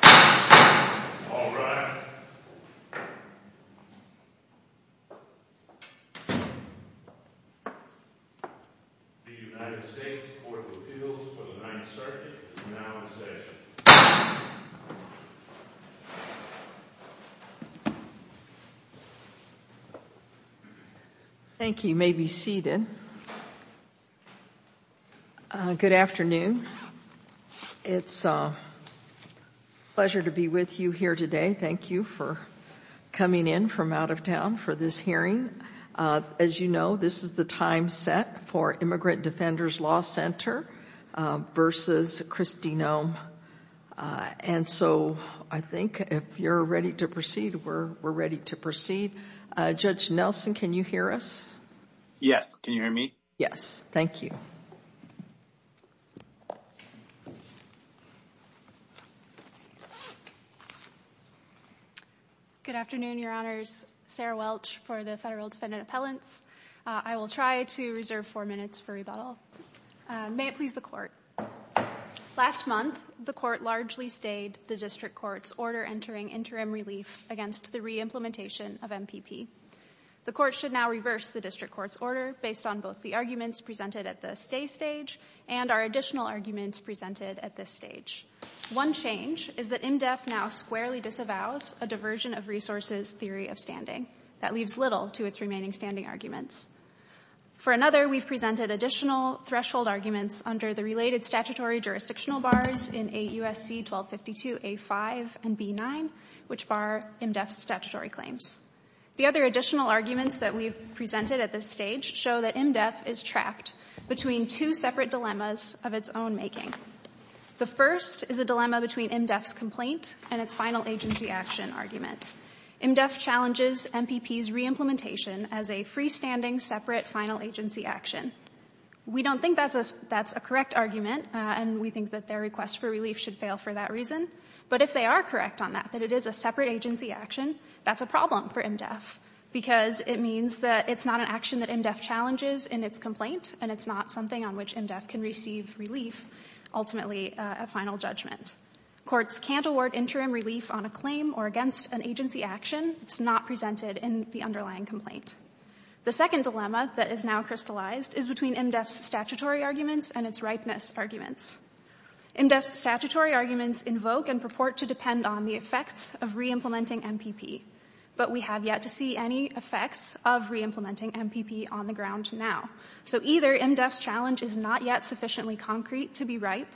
The United States Court of Appeals for the Ninth Circuit is now in session. Thank you. You may be seated. Good afternoon. It's a pleasure to be with you here today. Thank you for coming in from out of town for this hearing. As you know, this is the time set for Immigrant Defenders Law Center v. Kristi Noem. I think if you're ready to proceed, we're ready to proceed. Judge Nelson, can you hear us? Yes. Can you hear me? Yes. Thank you. Good afternoon, Your Honors. Sarah Welch for the Federal Defendant Appellants. I will try to reserve four minutes for rebuttal. May it please the Court. Last month, the Court largely stayed the District Court's order entering interim relief against the re-implementation of MPP. The Court should now reverse the District Court's order based on both the arguments presented at the stay stage and our additional arguments presented at this stage. One change is that IMDEF now squarely disavows a diversion of resources theory of standing. That leaves little to its remaining standing arguments. For another, we've presented additional threshold arguments under the related statutory jurisdictional bars in AUSC 1252A5 and B9, which bar IMDEF's statutory claims. The other additional arguments that we've presented at this stage show that IMDEF is trapped between two separate dilemmas of its own making. The first is a dilemma between IMDEF's complaint and its final agency action argument. IMDEF challenges MPP's re-implementation as a freestanding, separate, final agency action. We don't think that's a correct argument, and we think that their request for relief should fail for that reason. But if they are correct on that, that it is a separate agency action, that's a problem for IMDEF because it means that it's not an action that IMDEF challenges in its complaint and it's not something on which IMDEF can receive relief, ultimately, at final judgment. Courts can't award interim relief on a claim or against an agency action. It's not presented in the underlying complaint. The second dilemma that is now crystallized is between IMDEF's statutory arguments and its ripeness arguments. IMDEF's statutory arguments invoke and purport to depend on the effects of re-implementing MPP, but we have yet to see any effects of re-implementing MPP on the ground now. So either IMDEF's challenge is not yet sufficiently concrete to be ripe,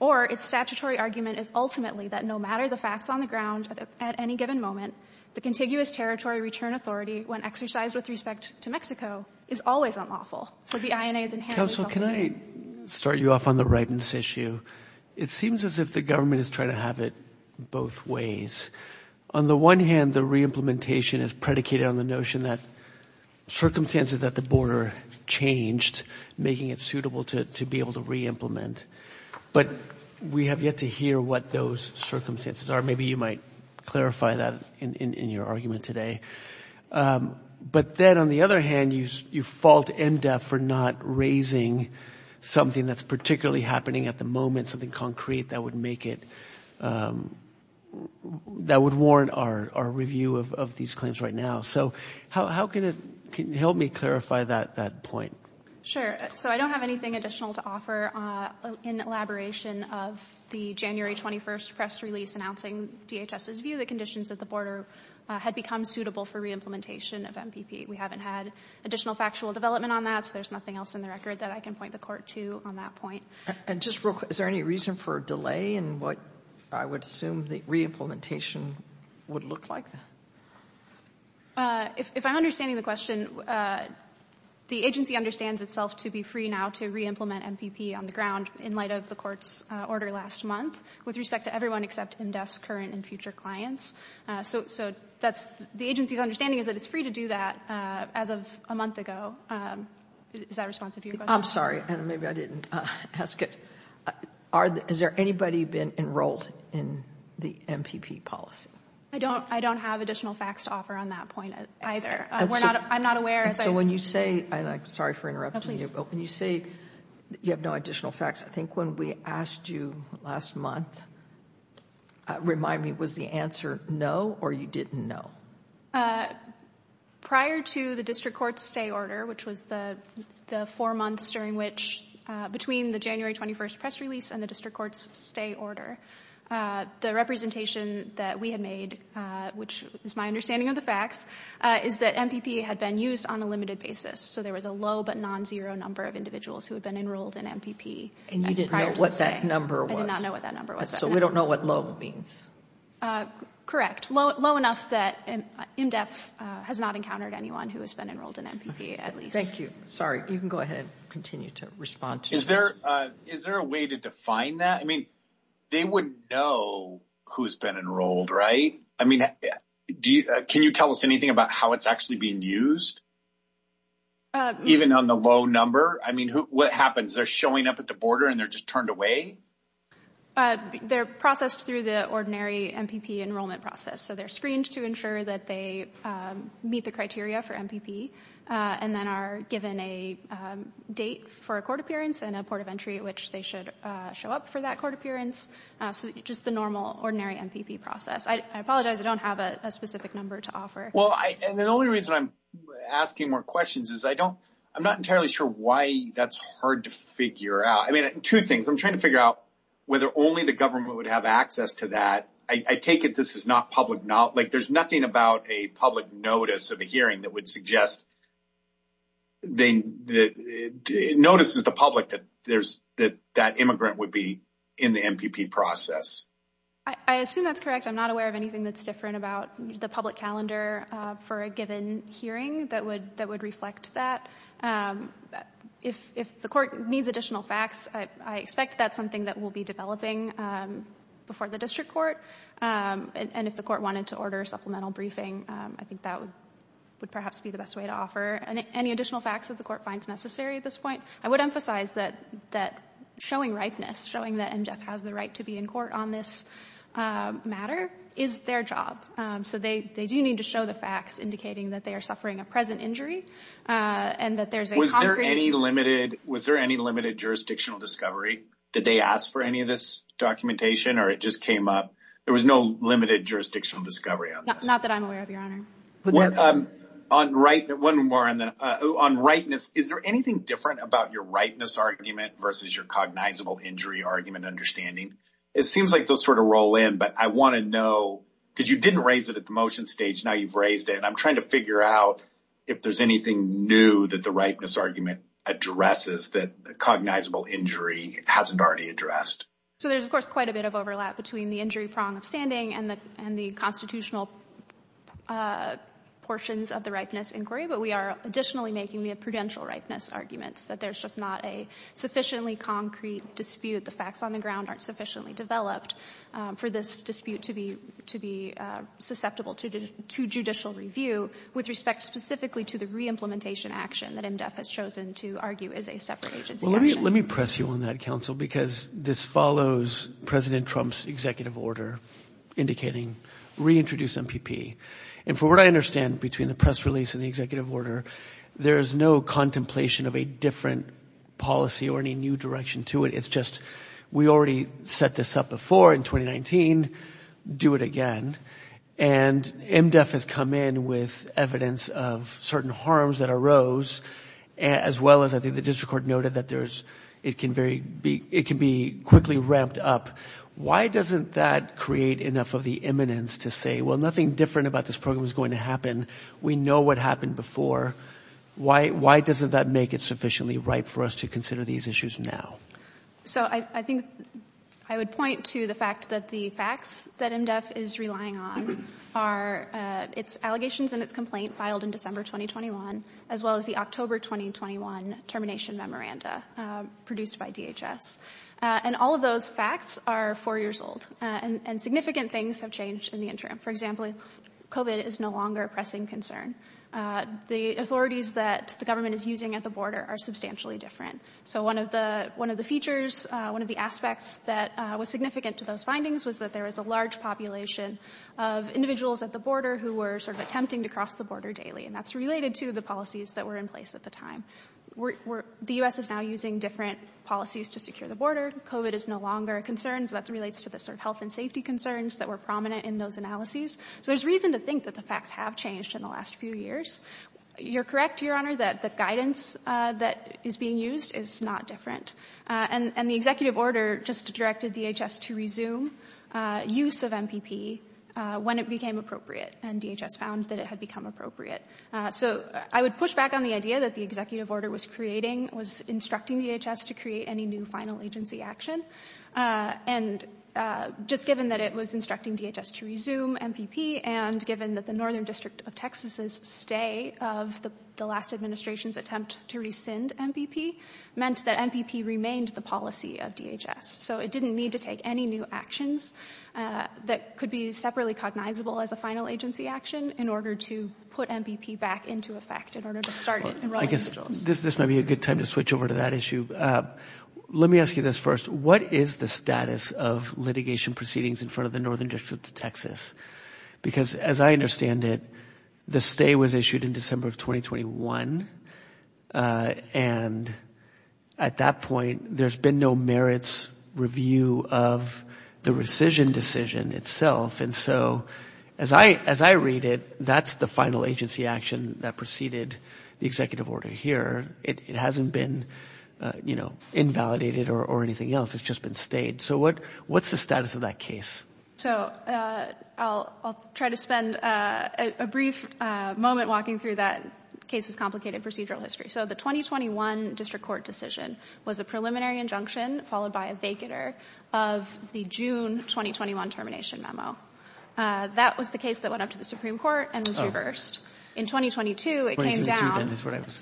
or its statutory argument is ultimately that no matter the facts on the ground at any given moment, the contiguous territory return authority, when exercised with respect to Mexico, is always unlawful. So the INA is inherently self-imposed. Counsel, can I start you off on the ripeness issue? It seems as if the government is trying to have it both ways. On the one hand, the re-implementation is predicated on the notion that circumstances at the border changed, making it suitable to be able to re-implement. But we have yet to hear what those circumstances are. Maybe you might clarify that in your argument today. But then, on the other hand, you fault IMDEF for not raising something that's particularly happening at the moment, something concrete that would warrant our review of these claims right now. So can you help me clarify that point? Sure. I don't have anything additional to offer in elaboration of the January 21st press release announcing DHS's view that conditions at the border had become suitable for re-implementation of MPP. We haven't had additional factual development on that, so there's nothing else in the record that I can point the Court to on that point. And just real quick, is there any reason for a delay in what I would assume the re-implementation would look like? If I'm understanding the question, the agency understands itself to be free now to re-implement MPP on the ground in light of the Court's order last month with respect to everyone except IMDEF's current and future clients. So the agency's understanding is that it's free to do that as of a month ago. Is that responsive to your question? I'm sorry, and maybe I didn't ask it. Has there anybody been enrolled in the MPP policy? I don't have additional facts to offer on that point either. I'm not aware. So when you say, and I'm sorry for interrupting you, but when you say you have no additional facts, I think when we asked you last month, remind me, was the answer no or you didn't know? Prior to the District Court's stay order, which was the four months during which, between the January 21st press release and the District Court's stay order, the representation that we had made, which is my understanding of the facts, is that MPP had been used on a limited basis. So there was a low but non-zero number of individuals who had been enrolled in MPP prior to the stay. And you didn't know what that number was? I did not know what that number was. So we don't know what low means? Correct. Low enough that IMDEF has not encountered anyone who has been enrolled in MPP at least. Thank you. Sorry, you can go ahead and continue to respond to that. Is there a way to define that? I mean, they wouldn't know who's been enrolled, right? I mean, can you tell us anything about how it's actually being used? Even on the low number, I mean, what happens? They're showing up at the border and they're just turned away? They're processed through the ordinary MPP enrollment process, so they're screened to ensure that they meet the criteria for MPP and then are given a date for a court appearance and a port of entry at which they should show up for that court appearance. So just the normal, ordinary MPP process. I apologize. I don't have a specific number to offer. Well, and the only reason I'm asking more questions is I don't I'm not entirely sure why that's hard to figure out. I mean, two things. I'm trying to figure out whether only the government would have access to that. I take it this is not public. Now, like there's nothing about a public notice of a hearing that would suggest. Then it notices the public that there's that that immigrant would be in the MPP process. I assume that's correct. I'm not aware of anything that's different about the public calendar for a given hearing that would that would reflect that. If the court needs additional facts, I expect that's something that will be developing before the district court. And if the court wanted to order a supplemental briefing, I think that would perhaps be the best way to offer any additional facts that the court finds necessary at this point. I would emphasize that that showing ripeness, showing that MGEF has the right to be in court on this matter is their job. So they they do need to show the facts indicating that they are suffering a present injury and that there's any limited. Was there any limited jurisdictional discovery? Did they ask for any of this documentation or it just came up? There was no limited jurisdictional discovery. Not that I'm aware of, Your Honor. One more on ripeness. Is there anything different about your ripeness argument versus your cognizable injury argument understanding? It seems like those sort of roll in. But I want to know because you didn't raise it at the motion stage. Now you've raised it. And I'm trying to figure out if there's anything new that the ripeness argument addresses that cognizable injury hasn't already addressed. So there's, of course, quite a bit of overlap between the injury prong of standing and the constitutional portions of the ripeness inquiry. But we are additionally making the prudential ripeness arguments that there's just not a sufficiently concrete dispute. The facts on the ground aren't sufficiently developed for this dispute to be to be susceptible to judicial review with respect specifically to the re-implementation action that MDEF has chosen to argue is a separate agency. Well, let me let me press you on that, counsel, because this follows President Trump's executive order indicating reintroduce MPP. And from what I understand between the press release and the executive order, there is no contemplation of a different policy or any new direction to it. It's just we already set this up before in 2019. Do it again. And MDEF has come in with evidence of certain harms that arose as well as I think the district court noted that there's it can very be it can be quickly ramped up. Why doesn't that create enough of the imminence to say, well, nothing different about this program is going to happen. We know what happened before. Why why doesn't that make it sufficiently right for us to consider these issues now? So I think I would point to the fact that the facts that MDEF is relying on are its allegations and its complaint filed in December 2021, as well as the October 2021 termination memoranda produced by DHS. And all of those facts are four years old and significant things have changed in the interim. For example, COVID is no longer a pressing concern. The authorities that the government is using at the border are substantially different. So one of the one of the features, one of the aspects that was significant to those findings was that there was a large population of individuals at the border who were sort of attempting to cross the border daily. And that's related to the policies that were in place at the time. The U.S. is now using different policies to secure the border. COVID is no longer a concern. So that relates to the sort of health and safety concerns that were prominent in those analyses. So there's reason to think that the facts have changed in the last few years. You're correct, Your Honor, that the guidance that is being used is not different. And the executive order just directed DHS to resume use of MPP when it became appropriate. And DHS found that it had become appropriate. So I would push back on the idea that the executive order was creating, was instructing DHS to create any new final agency action. And just given that it was instructing DHS to resume MPP and given that the Northern District of Texas's stay of the last administration's attempt to rescind MPP meant that MPP remained the policy of DHS. So it didn't need to take any new actions that could be separately cognizable as a final agency action in order to put MPP back into effect, in order to start it. I guess this might be a good time to switch over to that issue. Let me ask you this first. What is the status of litigation proceedings in front of the Northern District of Texas? Because as I understand it, the stay was issued in December of 2021. And at that point, there's been no merits review of the rescission decision itself. And so as I read it, that's the final agency action that preceded the executive order here. It hasn't been, you know, invalidated or anything else. It's just been stayed. So what's the status of that case? So I'll try to spend a brief moment walking through that case's complicated procedural history. So the 2021 district court decision was a preliminary injunction followed by a June 2021 termination memo. That was the case that went up to the Supreme Court and was reversed. In 2022, it came down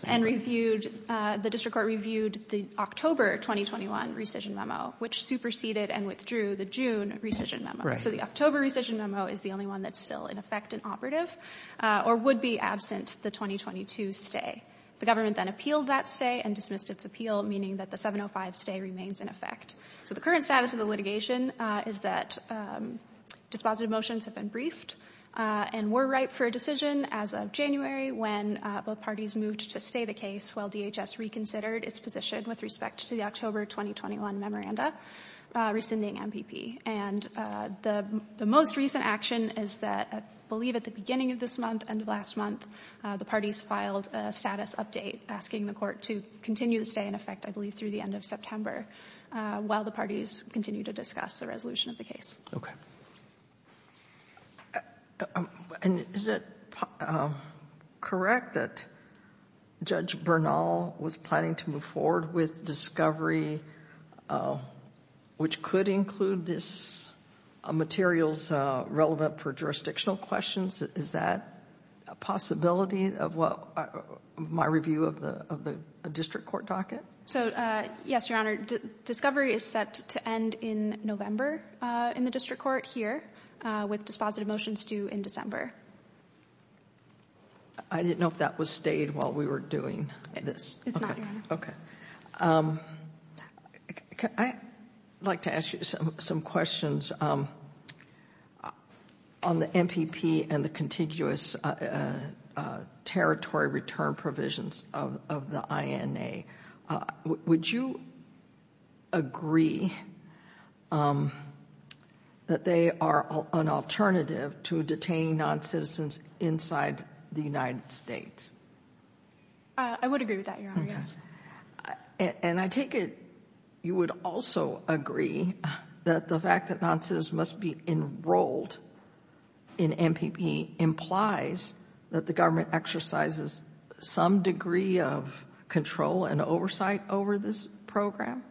and reviewed, the district court reviewed the October 2021 rescission memo, which superseded and withdrew the June rescission memo. So the October rescission memo is the only one that's still in effect and operative or would be absent the 2022 stay. The government then appealed that stay and dismissed its appeal, meaning that the 705 stay remains in effect. So the current status of the litigation is that dispositive motions have been briefed and were ripe for a decision as of January when both parties moved to stay the case while DHS reconsidered its position with respect to the October 2021 memoranda, rescinding MPP. And the most recent action is that I believe at the beginning of this month and last month, the parties filed a status update asking the court to continue to stay in effect, I believe through the end of September. While the parties continue to discuss the resolution of the case. Okay. And is it correct that Judge Bernal was planning to move forward with discovery, which could include this materials relevant for jurisdictional questions? Is that a possibility of what my review of the district court docket? So, yes, your honor, discovery is set to end in November in the district court here with dispositive motions due in December. I didn't know if that was stayed while we were doing this. It's not. OK, I'd like to ask you some questions on the MPP and the contiguous territory return provisions of the INA. Would you agree that they are an alternative to detaining non-citizens inside the United States? I would agree with that, your honor, yes. And I take it you would also agree that the fact that non-citizens must be enrolled in MPP implies that the government exercises some degree of control and oversight over this program.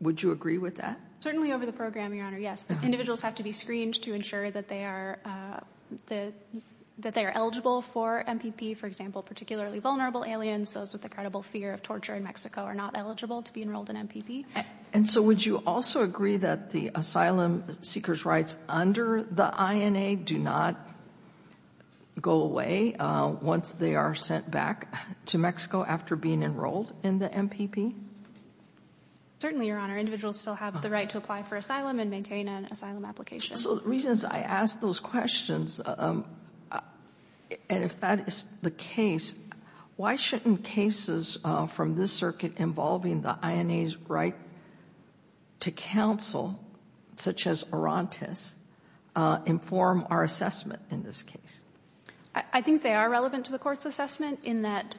Would you agree with that? Certainly over the program, your honor, yes. Individuals have to be screened to ensure that they are eligible for MPP. For example, particularly vulnerable aliens, those with a credible fear of torture in Mexico are not eligible to be enrolled in MPP. And so would you also agree that the asylum seekers rights under the INA do not go away once they are sent back to Mexico after being enrolled in the MPP? Certainly, your honor, individuals still have the right to apply for asylum and maintain an asylum application. So the reasons I ask those questions, and if that is the case, why shouldn't cases from this circuit involving the INA's right to counsel, such as Orontes, inform our assessment in this case? I think they are relevant to the court's assessment in that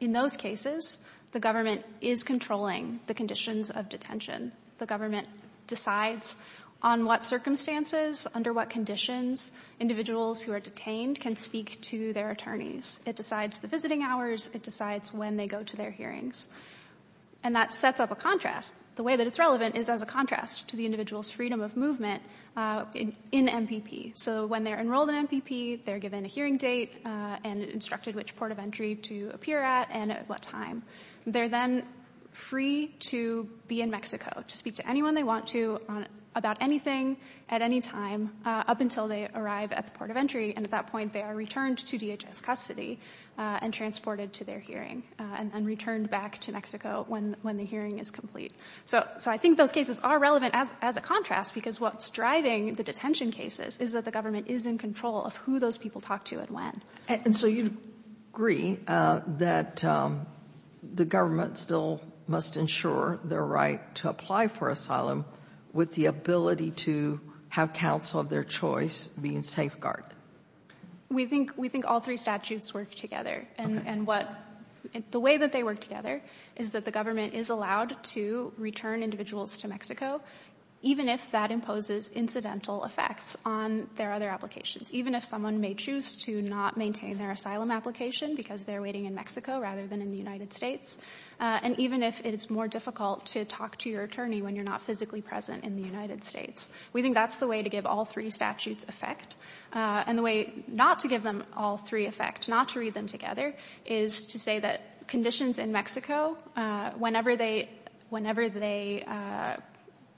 in those cases, the government is controlling the conditions of detention. The government decides on what circumstances, under what conditions individuals who are detained can speak to their attorneys. It decides the visiting hours. It decides when they go to their hearings. And that sets up a contrast. The way that it's relevant is as a contrast to the individual's freedom of movement in MPP. So when they're enrolled in MPP, they're given a hearing date and instructed which port of entry to appear at and at what time. They're then free to be in Mexico to speak to anyone they want to about anything at any time up until they arrive at the port of entry. And at that point, they are returned to DHS custody and transported to their hearing and returned back to Mexico when the hearing is complete. So I think those cases are relevant as a contrast, because what's driving the detention cases is that the government is in control of who those people talk to and when. And so you agree that the government still must ensure their right to apply for asylum with the ability to have counsel of their choice being safeguarded. We think we think all three statutes work together and what the way that they work together is that the government is allowed to return individuals to Mexico, even if that imposes incidental effects on their other applications, even if someone may choose to not maintain their asylum application because they're waiting in Mexico rather than in the United States. And even if it's more difficult to talk to your attorney when you're not physically present in the United States, we think that's the way to give all three statutes effect and the way not to give them all three effect, not to read them together, is to say that conditions in Mexico, whenever they whenever they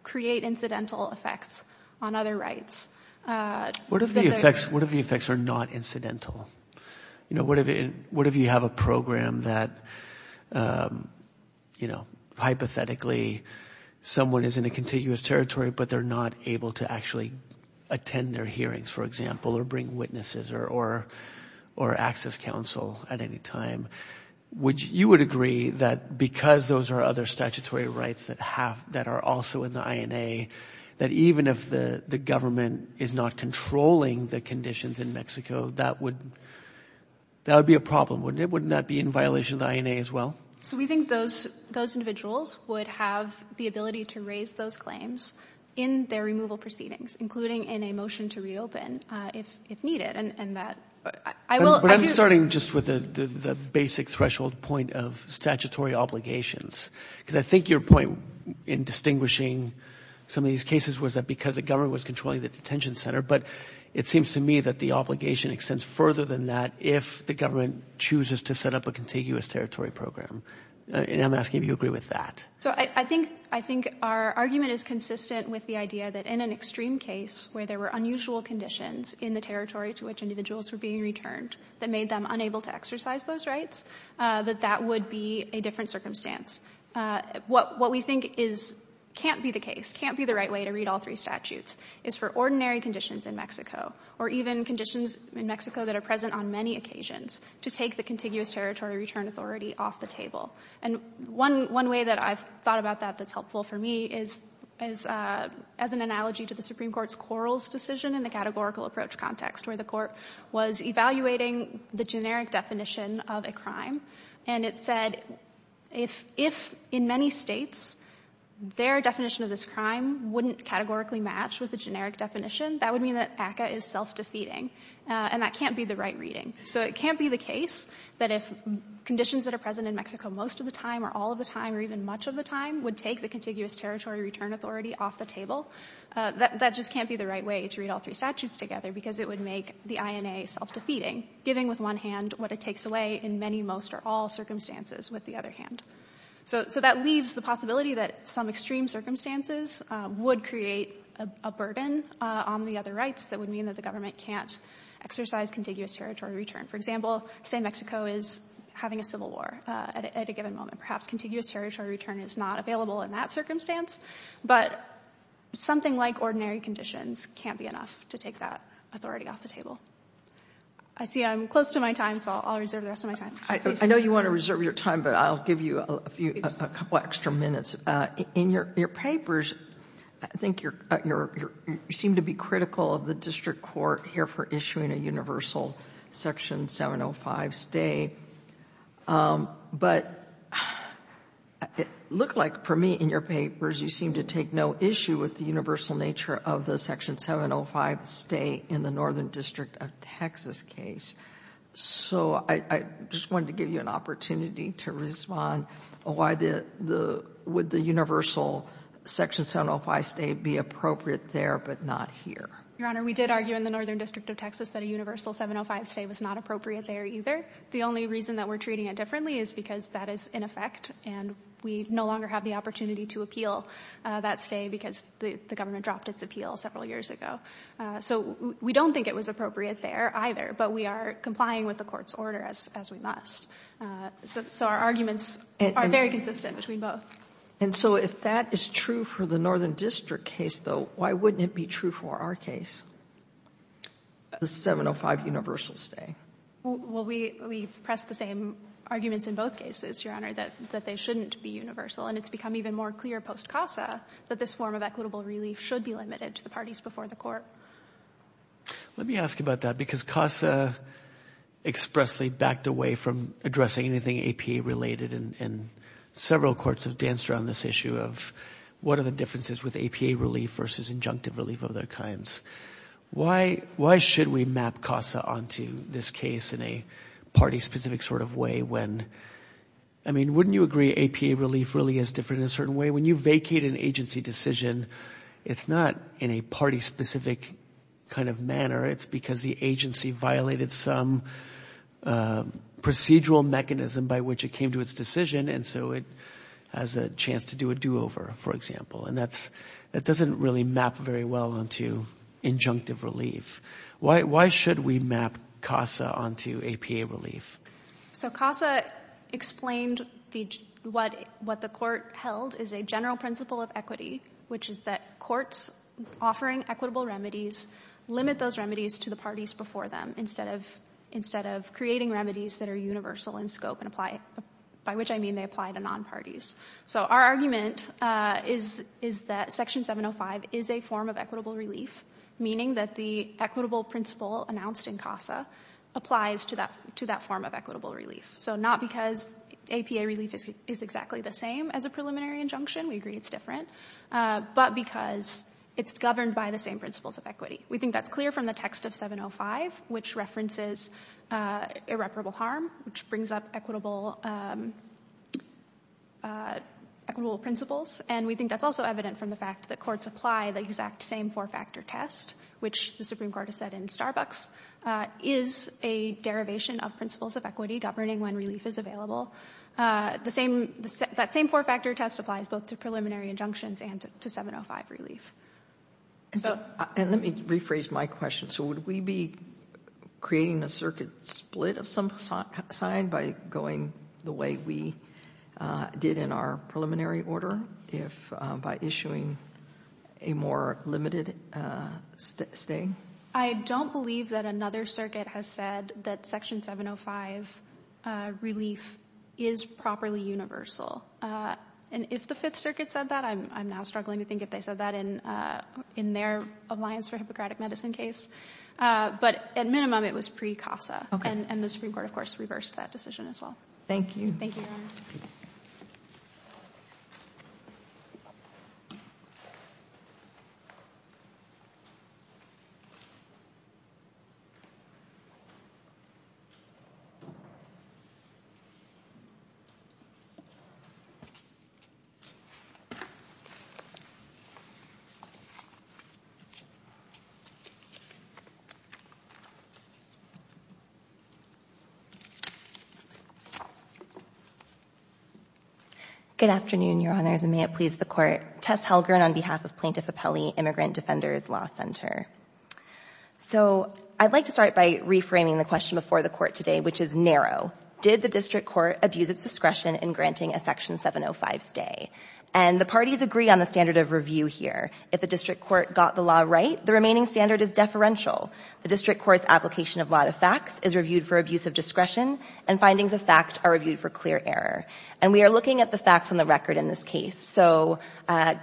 create incidental effects on other rights. What if the effects are not incidental? You know, what if you have a program that, you know, hypothetically someone is in a territory, but they're not able to actually attend their hearings, for example, or bring witnesses or or or access counsel at any time, which you would agree that because those are other statutory rights that have that are also in the INA, that even if the government is not controlling the conditions in Mexico, that would that would be a problem, wouldn't it? Wouldn't that be in violation of the INA as well? So we think those those individuals would have the ability to raise those claims in their removal proceedings, including in a motion to reopen if if needed. And that I will. But I'm starting just with the basic threshold point of statutory obligations, because I think your point in distinguishing some of these cases was that because the government was controlling the detention center. But it seems to me that the obligation extends further than that. If the government chooses to set up a contiguous territory program, and I'm asking if you agree with that. So I think I think our argument is consistent with the idea that in an extreme case where there were unusual conditions in the territory to which individuals were being returned that made them unable to exercise those rights, that that would be a different circumstance. What what we think is can't be the case, can't be the right way to read all three statutes is for ordinary conditions in Mexico or even conditions in Mexico that are present on many occasions to take the contiguous territory return authority off the table. And one one way that I've thought about that that's helpful for me is as as an analogy to the Supreme Court's Quarles decision in the categorical approach context where the court was evaluating the generic definition of a crime. And it said if if in many states their definition of this crime wouldn't categorically match with the generic definition, that would mean that ACCA is self-defeating. And that can't be the right reading. So it can't be the case that if conditions that are present in Mexico most of the time or all of the time or even much of the time would take the contiguous territory return authority off the table, that that just can't be the right way to read all three statutes together because it would make the INA self-defeating, giving with one hand what it takes away in many, most or all circumstances with the other hand. So so that leaves the possibility that some extreme circumstances would create a burden on the other rights that would mean that the government can't exercise contiguous territory return. For example, say Mexico is having a civil war at a given moment, perhaps contiguous territory return is not available in that circumstance. But something like ordinary conditions can't be enough to take that authority off the table. I see I'm close to my time, so I'll reserve the rest of my time. I know you want to reserve your time, but I'll give you a few extra minutes in your papers. I think you seem to be critical of the district court here for issuing a universal Section 705 stay. But it looked like for me in your papers, you seem to take no issue with the universal nature of the Section 705 stay in the Northern District of Texas case. So I just wanted to give you an opportunity to respond why would the universal Section 705 stay be appropriate there, but not here? Your Honor, we did argue in the Northern District of Texas that a universal 705 stay was not appropriate there either. The only reason that we're treating it differently is because that is in effect and we no longer have the opportunity to appeal that stay because the government dropped its appeal several years ago. So we don't think it was appropriate there either, but we are complying with the court's order as we must. So our arguments are very consistent between both. And so if that is true for the Northern District case, though, why wouldn't it be true for our case? The 705 universal stay. Well, we we've pressed the same arguments in both cases, Your Honor, that that they shouldn't be universal. And it's become even more clear post CASA that this form of equitable relief should be limited to the parties before the court. Let me ask about that, because CASA expressly backed away from addressing anything APA related and several courts have danced around this issue of what are the differences with APA relief versus injunctive relief of their kinds? Why should we map CASA onto this case in a party specific sort of way when, I mean, wouldn't you agree APA relief really is different in a certain way? When you vacate an agency decision, it's not in a party specific kind of manner. It's because the agency violated some procedural mechanism by which it came to its decision. And so it has a chance to do a do over, for example. And that's that doesn't really map very well onto injunctive relief. Why should we map CASA onto APA relief? So CASA explained what what the court held is a general principle of equity, which is that courts offering equitable remedies limit those remedies to the parties before them instead of instead of creating remedies that are universal in scope and apply by which I mean they apply to non-parties. So our argument is is that Section 705 is a form of equitable relief, meaning that the equitable principle announced in CASA applies to that to that form of equitable relief. So not because APA relief is exactly the same as a preliminary injunction. We agree it's different. But because it's governed by the same principles of equity. We think that's clear from the text of 705, which references irreparable harm, which brings up equitable principles. And we think that's also evident from the fact that courts apply the exact same four factor test, which the Supreme Court has said in Starbucks, is a derivation of principles of equity governing when relief is available. The same that same four factor test applies both to preliminary injunctions and to 705 relief. And let me rephrase my question. So would we be creating a circuit split of some sign by going the way we did in our preliminary order if by issuing a more limited stay? I don't believe that another circuit has said that Section 705 relief is properly universal. And if the Fifth Circuit said that, I'm now struggling to think if they said that in in their Alliance for Hippocratic Medicine case. But at minimum, it was pre-CASA and the Supreme Court, of course, reversed that decision as well. Thank you. Thank you. Good afternoon, Your Honors, and may it please the court. Tess Helgarn on behalf of Plaintiff Appellee Immigrant Defenders Law Center. So I'd like to start by reframing the question before the court today, which is narrow. Did the district court abuse its discretion in granting a Section 705 stay? And the parties agree on the standard of review here. If the district court got the law right, the remaining standard is deferential. The district court's application of law to facts is reviewed for abuse of discretion and findings of fact are reviewed for clear error. And we are looking at the facts on the record in this case. So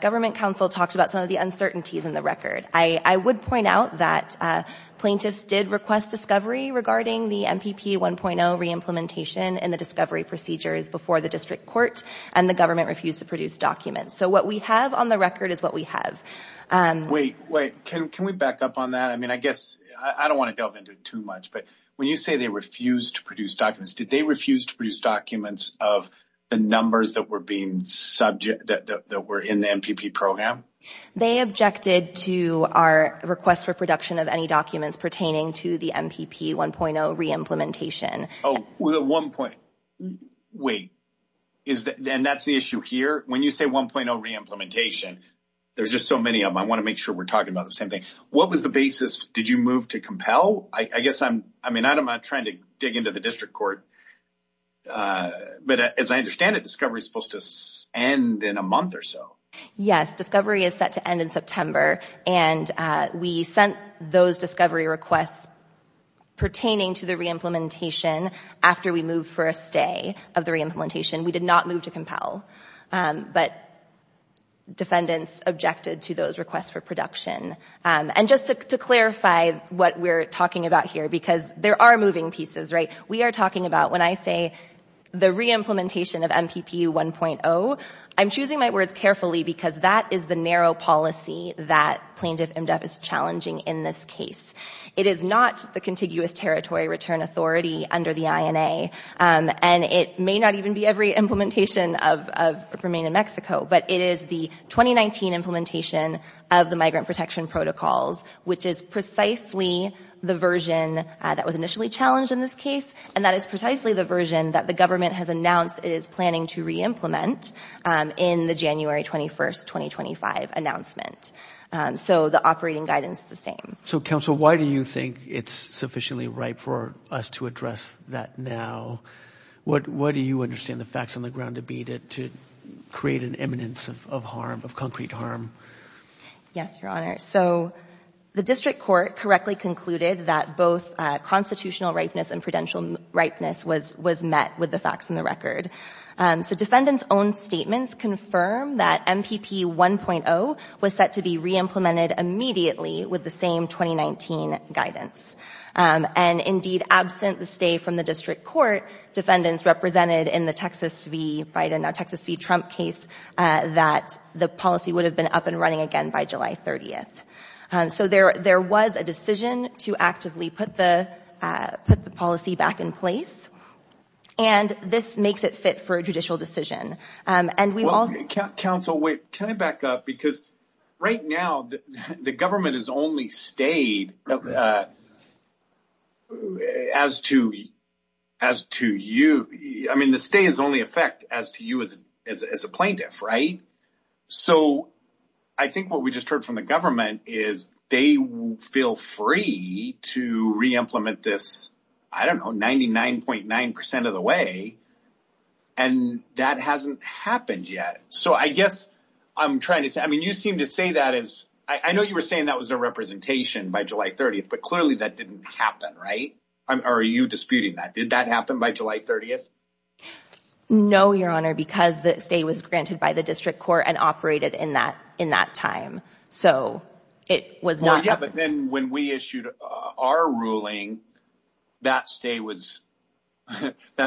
government counsel talked about some of the uncertainties in the record. I would point out that plaintiffs did request discovery regarding the MPP 1.0 re-implementation and the discovery procedures before the district court, and the government refused to produce documents. So what we have on the record is what we have. Wait, wait, can we back up on that? I mean, I guess I don't want to delve into it too much, but when you say they refused to produce documents, did they refuse to produce documents of the numbers that were being subject, that were in the MPP program? They objected to our request for production of any documents pertaining to the MPP 1.0 re-implementation. Oh, well, at one point, wait, is that and that's the issue here. When you say 1.0 re-implementation, there's just so many of them. I want to make sure we're talking about the same thing. What was the basis? Did you move to compel? I guess I'm I mean, I'm not trying to dig into the district court, but as I understand it, discovery is supposed to end in a month or so. Yes, discovery is set to end in September. And we sent those discovery requests pertaining to the re-implementation after we moved for a stay of the re-implementation. We did not move to compel, but defendants objected to those requests for production. And just to clarify what we're talking about here, because there are moving pieces, right? We are talking about when I say the re-implementation of MPP 1.0, I'm choosing my words carefully because that is the narrow policy that Plaintiff MDef is challenging in this case. It is not the contiguous territory return authority under the INA, and it may not even be every implementation of Remain in Mexico, but it is the 2019 implementation of the migrant protection protocols, which is precisely the version that was initially challenged in this case. And that is precisely the version that the government has announced it is January 21st, 2025 announcement. So the operating guidance is the same. So, counsel, why do you think it's sufficiently right for us to address that now? What do you understand the facts on the ground to be to create an eminence of harm, of concrete harm? Yes, Your Honor. So the district court correctly concluded that both constitutional ripeness and prudential ripeness was met with the facts and the record. So defendants' own statements confirm that MPP 1.0 was set to be re-implemented immediately with the same 2019 guidance. And indeed, absent the stay from the district court, defendants represented in the Texas v. Biden, now Texas v. Trump case, that the policy would have been up and running again by July 30th. So there was a decision to actively put the policy back in place. And this makes it fit for a judicial decision. And we will... Counsel, wait, can I back up? Because right now, the government has only stayed as to you. I mean, the stay is only effect as to you as a plaintiff, right? So I think what we just heard from the government is they feel free to re-implement this, I don't know, 99.9% of the way. And that hasn't happened yet. So I guess I'm trying to say, I mean, you seem to say that as... I know you were saying that was a representation by July 30th, but clearly that didn't happen, right? Are you disputing that? Did that happen by July 30th? No, Your Honor, because the stay was granted by the district court and operated in that time. So it was not... Well, yeah, but then when we issued our ruling, that stay was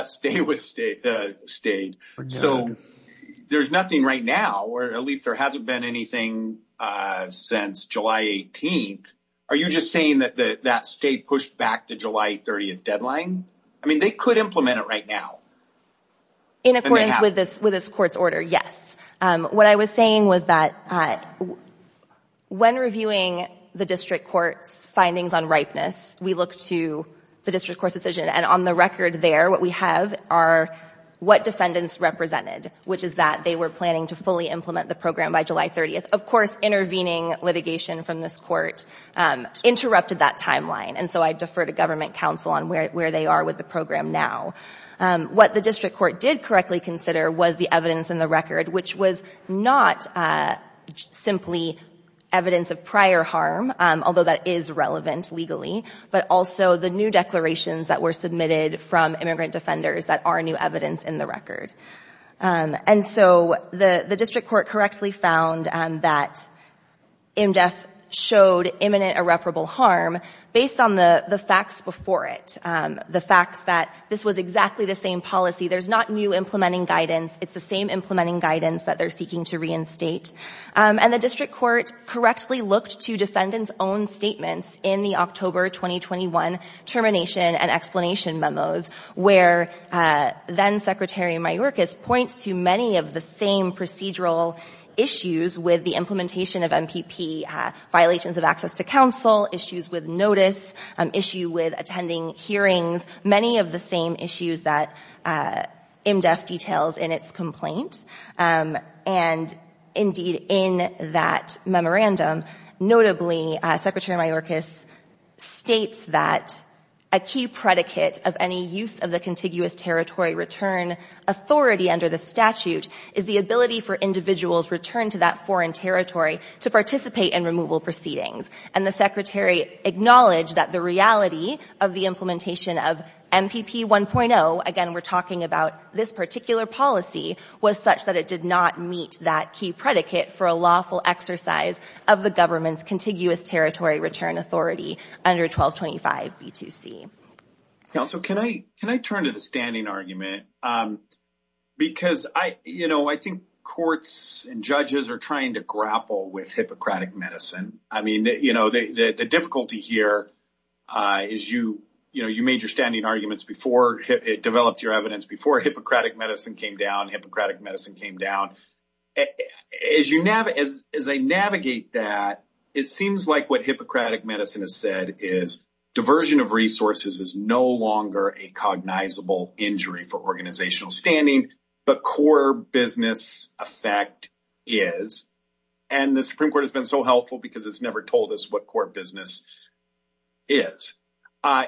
stayed. So there's nothing right now, or at least there hasn't been anything since July 18th. Are you just saying that that stay pushed back to July 30th deadline? I mean, they could implement it right now. In accordance with this court's order, yes. What I was saying was that when reviewing the district court's findings on ripeness, we look to the district court's decision and on the record there, what we have are what defendants represented, which is that they were planning to fully implement the program by July 30th. Of course, intervening litigation from this court interrupted that timeline. And so I defer to government counsel on where they are with the program now. What the district court did correctly consider was the evidence in the record, which was not simply evidence of prior harm, although that is relevant legally, but also the new declarations that were submitted from immigrant defenders that are new evidence in the record. And so the district court correctly found that IMDEF showed imminent irreparable harm based on the facts before it, the facts that this was exactly the same policy. There's not new implementing guidance. It's the same implementing guidance that they're seeking to reinstate. And the district court correctly looked to defendant's own statements in the October 2021 termination and explanation memos, where then-Secretary Mayorkas points to many of the same procedural issues with the implementation of MPP, violations of access to counsel, issues with notice, issue with attending hearings, many of the same issues that IMDEF details in its complaint. And indeed, in that memorandum, notably, Secretary Mayorkas states that a key predicate of any use of the contiguous territory return authority under the statute is the ability for individuals returned to that foreign territory to participate in removal proceedings. And the Secretary acknowledged that the reality of the implementation of MPP 1.0, again, we're talking about this particular policy, was such that it did not meet that key predicate for a lawful exercise of the government's contiguous territory return authority under 1225 B2C. Counsel, can I turn to the standing argument? Because I, you know, I think courts and judges are trying to grapple with Hippocratic medicine. I mean, you know, the difficulty here is you, you know, you made your standing arguments before it developed your evidence, before Hippocratic medicine came down, Hippocratic medicine came down. As you navigate, as they navigate that, it seems like what Hippocratic medicine has said is diversion of resources is no longer a cognizable injury for organizational standing, but core business effect is. And the Supreme Court has been so helpful because it's never told us what core business is.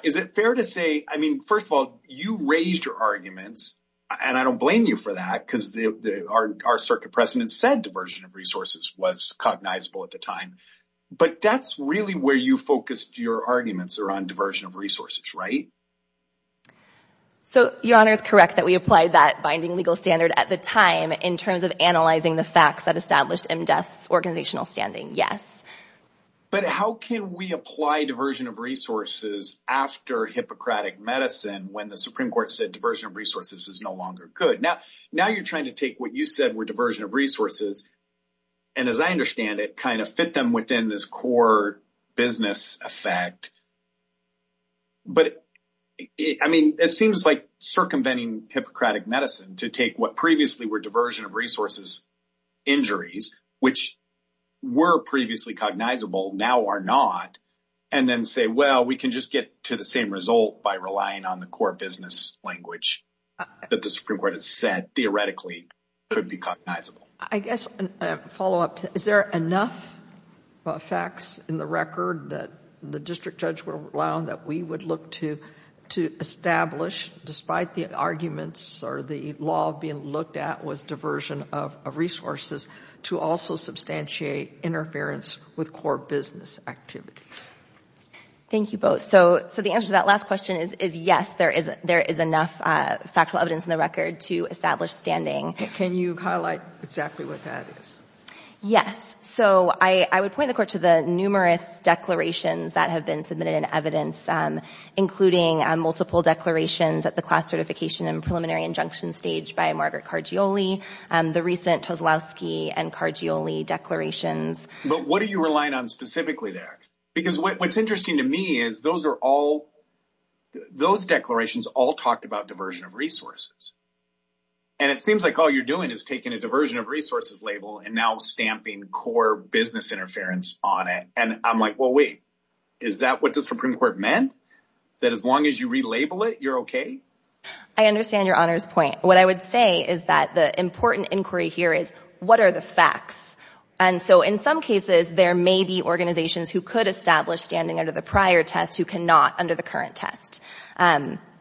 Is it fair to say, I mean, first of all, you raised your arguments and I don't blame you for that because our circuit precedent said diversion of resources was cognizable at the time, but that's really where you focused your arguments around diversion of resources, right? So your honor is correct that we applied that binding legal standard at the time in terms of analyzing the facts that established MDEF's organizational standing. Yes. But how can we apply diversion of resources after Hippocratic medicine when the Supreme Court said diversion of resources is no longer good? Now, now you're trying to take what you said were diversion of resources. And as I understand it kind of fit them within this core business effect. But I mean, it seems like circumventing Hippocratic medicine to take what previously were diversion of resources injuries, which were previously cognizable now are not, and then say, well, we can just get to the same result by relying on the core business language that the Supreme Court has said theoretically could be cognizable. I guess a follow-up, is there enough facts in the record that the district judge would allow that we would look to, to establish despite the arguments or the law being looked at was diversion of resources, to also substantiate interference with core business activities? Thank you both. So, so the answer to that last question is, is yes, there is, there is enough factual evidence in the record to establish standing. Can you highlight exactly what that is? Yes. So I, I would point the court to the numerous declarations that have been submitted in evidence including multiple declarations at the class certification and preliminary injunction stage by Margaret Cargioli, the recent Todlowski and Cargioli declarations. But what are you relying on specifically there? Because what's interesting to me is those are all, those declarations all talked about diversion of resources. And it seems like all you're doing is taking a diversion of resources label and now stamping core business interference on it. And I'm like, well, wait, is that what the Supreme Court meant? That as long as you relabel it, you're okay? I understand your Honor's point. What I would say is that the important inquiry here is what are the facts? And so in some cases, there may be organizations who could establish standing under the prior test who cannot under the current test.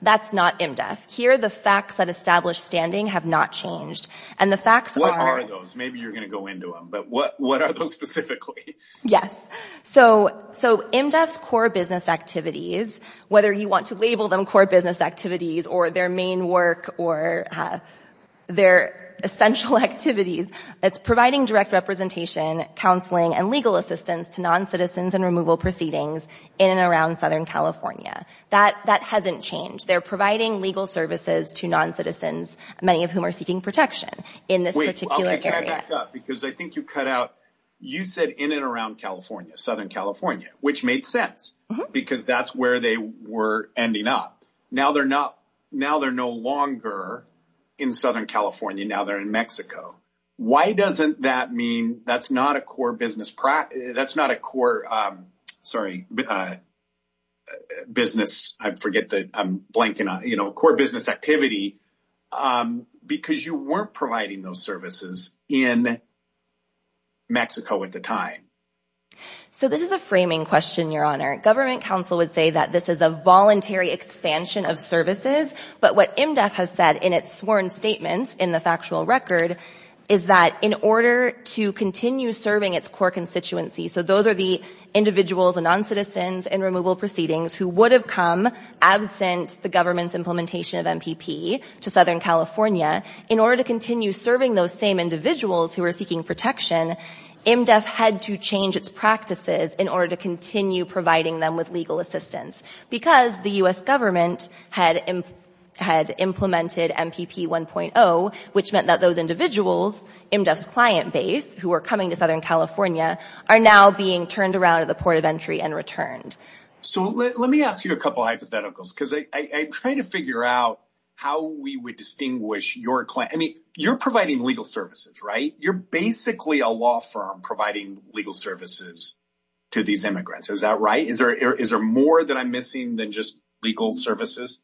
That's not MDEF. Here, the facts that establish standing have not changed. And the facts are... What are those? Maybe you're going to go into them, but what, what are those specifically? Yes. So, so MDEF's core business activities, whether you want to label them core business activities or their main work or their essential activities, it's providing direct representation, counseling, and legal assistance to non-citizens and removal proceedings in and around Southern California. That, that hasn't changed. They're providing legal services to non-citizens, many of whom are seeking protection in this particular area. Because I think you cut out, you said in and around California, Southern California, which made sense because that's where they were ending up. Now they're not, now they're no longer in Southern California. Now they're in Mexico. Why doesn't that mean that's not a core business practice? That's not a core, sorry, business. I forget that I'm blanking on, you know, core business activity, because you weren't providing those services in Mexico at the time. So this is a framing question, your honor. Government counsel would say that this is a voluntary expansion of services, but what MDEF has said in its sworn statements in the factual record is that in order to continue serving its core constituency, so those are the individuals and non-citizens and removal proceedings who would have come absent the government's implementation of MPP to Southern California, in order to continue serving those same individuals who are seeking protection, MDEF had to change its practices in order to continue providing them with legal assistance because the U.S. government had implemented MPP 1.0, which meant that those individuals, MDEF's client base, who are coming to Southern California, are now being turned around at the port of entry and returned. So let me ask you a couple of hypotheticals, because I'm trying to figure out how we would distinguish your client. I mean, you're providing legal services, right? You're basically a law firm providing legal services to these immigrants. Is that right? Is there more that I'm missing than just legal services?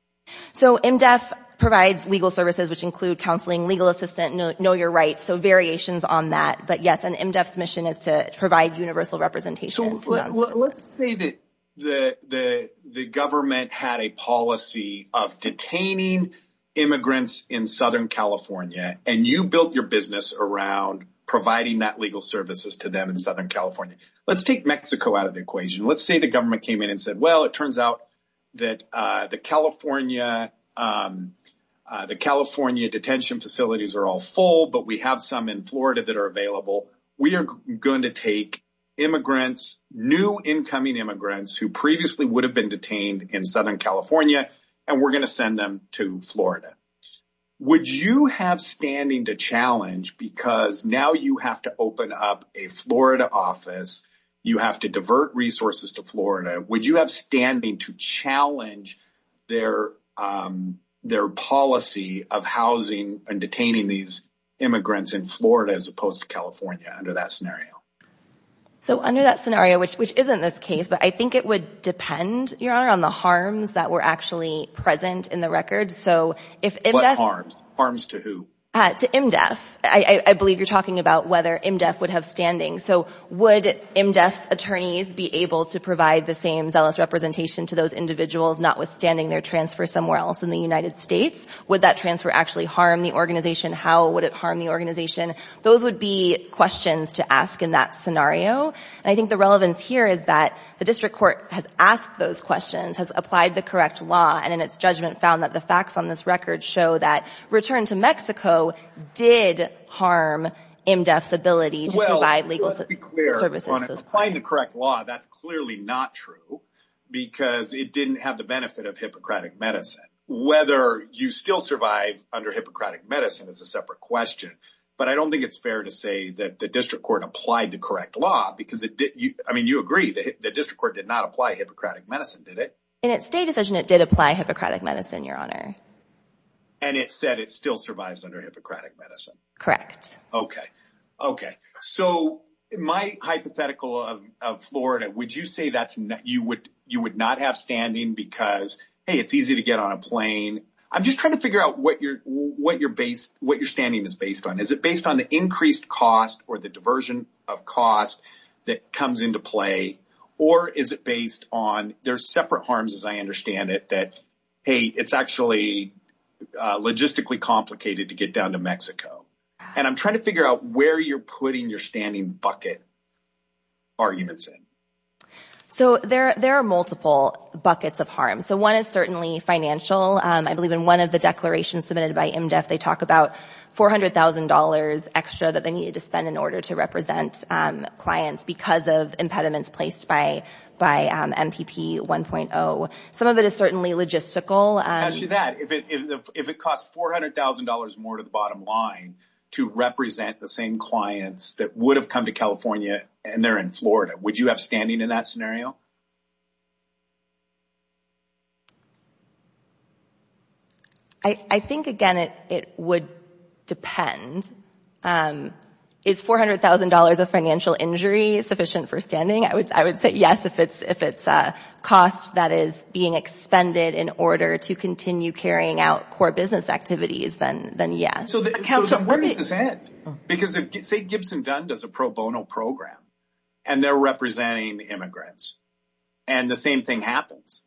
So MDEF provides legal services, which include counseling, legal assistance, know your rights, so variations on that. But yes, MDEF's mission is to provide universal representation. Let's say that the government had a policy of detaining immigrants in Southern California, and you built your business around providing that legal services to them in Southern California. Let's take Mexico out of the equation. Let's say the government came in and said, well, it turns out that the California detention facilities are all full, but we have some in Florida that are available. We are going to take immigrants, new incoming immigrants who previously would have been detained in Southern California, and we're going to send them to Florida. Would you have standing to challenge, because now you have to open up a Florida office, you have to divert resources to Florida, would you have standing to challenge their policy of housing and detaining these immigrants in Florida as opposed to California under that scenario? So under that scenario, which isn't this case, but I think it would depend, Your Honor, on the harms that were actually present in the records. So if IMDEF... What harms? Harms to who? To IMDEF. I believe you're talking about whether IMDEF would have standing. So would IMDEF's attorneys be able to provide the same zealous representation to those individuals, notwithstanding their transfer somewhere else in the United States? Would that transfer actually harm the organization? How would it harm the organization? Those would be questions to ask in that scenario. And I think the relevance here is that the district court has asked those questions, has applied the correct law, and in its judgment found that the facts on this record show that return to Mexico did harm IMDEF's ability to provide legal services. Well, let's be clear, applying the correct law, that's clearly not true because it didn't have the benefit of Hippocratic medicine. Whether you still survive under Hippocratic medicine is a separate question. But I don't think it's fair to say that the district court applied the correct law because it didn't. I mean, you agree that the district court did not apply Hippocratic medicine, did it? In its state decision, it did apply Hippocratic medicine, Your Honor. And it said it still survives under Hippocratic medicine. Correct. OK, OK. So my hypothetical of Florida, would you say that you would you would not have standing because, hey, it's easy to get on a plane? I'm just trying to figure out what your what your base, what your standing is based on. Is it based on the increased cost or the diversion of cost that comes into play? Or is it based on there's separate harms, as I understand it, that, hey, it's actually logistically complicated to get down to Mexico. And I'm trying to figure out where you're putting your standing bucket. Arguments, so there there are multiple buckets of harm, so one is certainly financial, I believe in one of the declarations submitted by IMDEF, they talk about four hundred thousand dollars extra that they needed to spend in order to represent clients because of impediments placed by by MPP 1.0. Some of it is certainly logistical. As to that, if it costs four hundred thousand dollars more to the bottom line to represent the same clients that would have come to California and they're in Florida, would you have standing in that scenario? I think, again, it would depend. And is four hundred thousand dollars of financial injury sufficient for standing? I would I would say yes. If it's if it's a cost that is being expended in order to continue carrying out core business activities, then then, yeah. So where does this end? Because if, say, Gibson Dunn does a pro bono program and they're representing immigrants and the same thing happens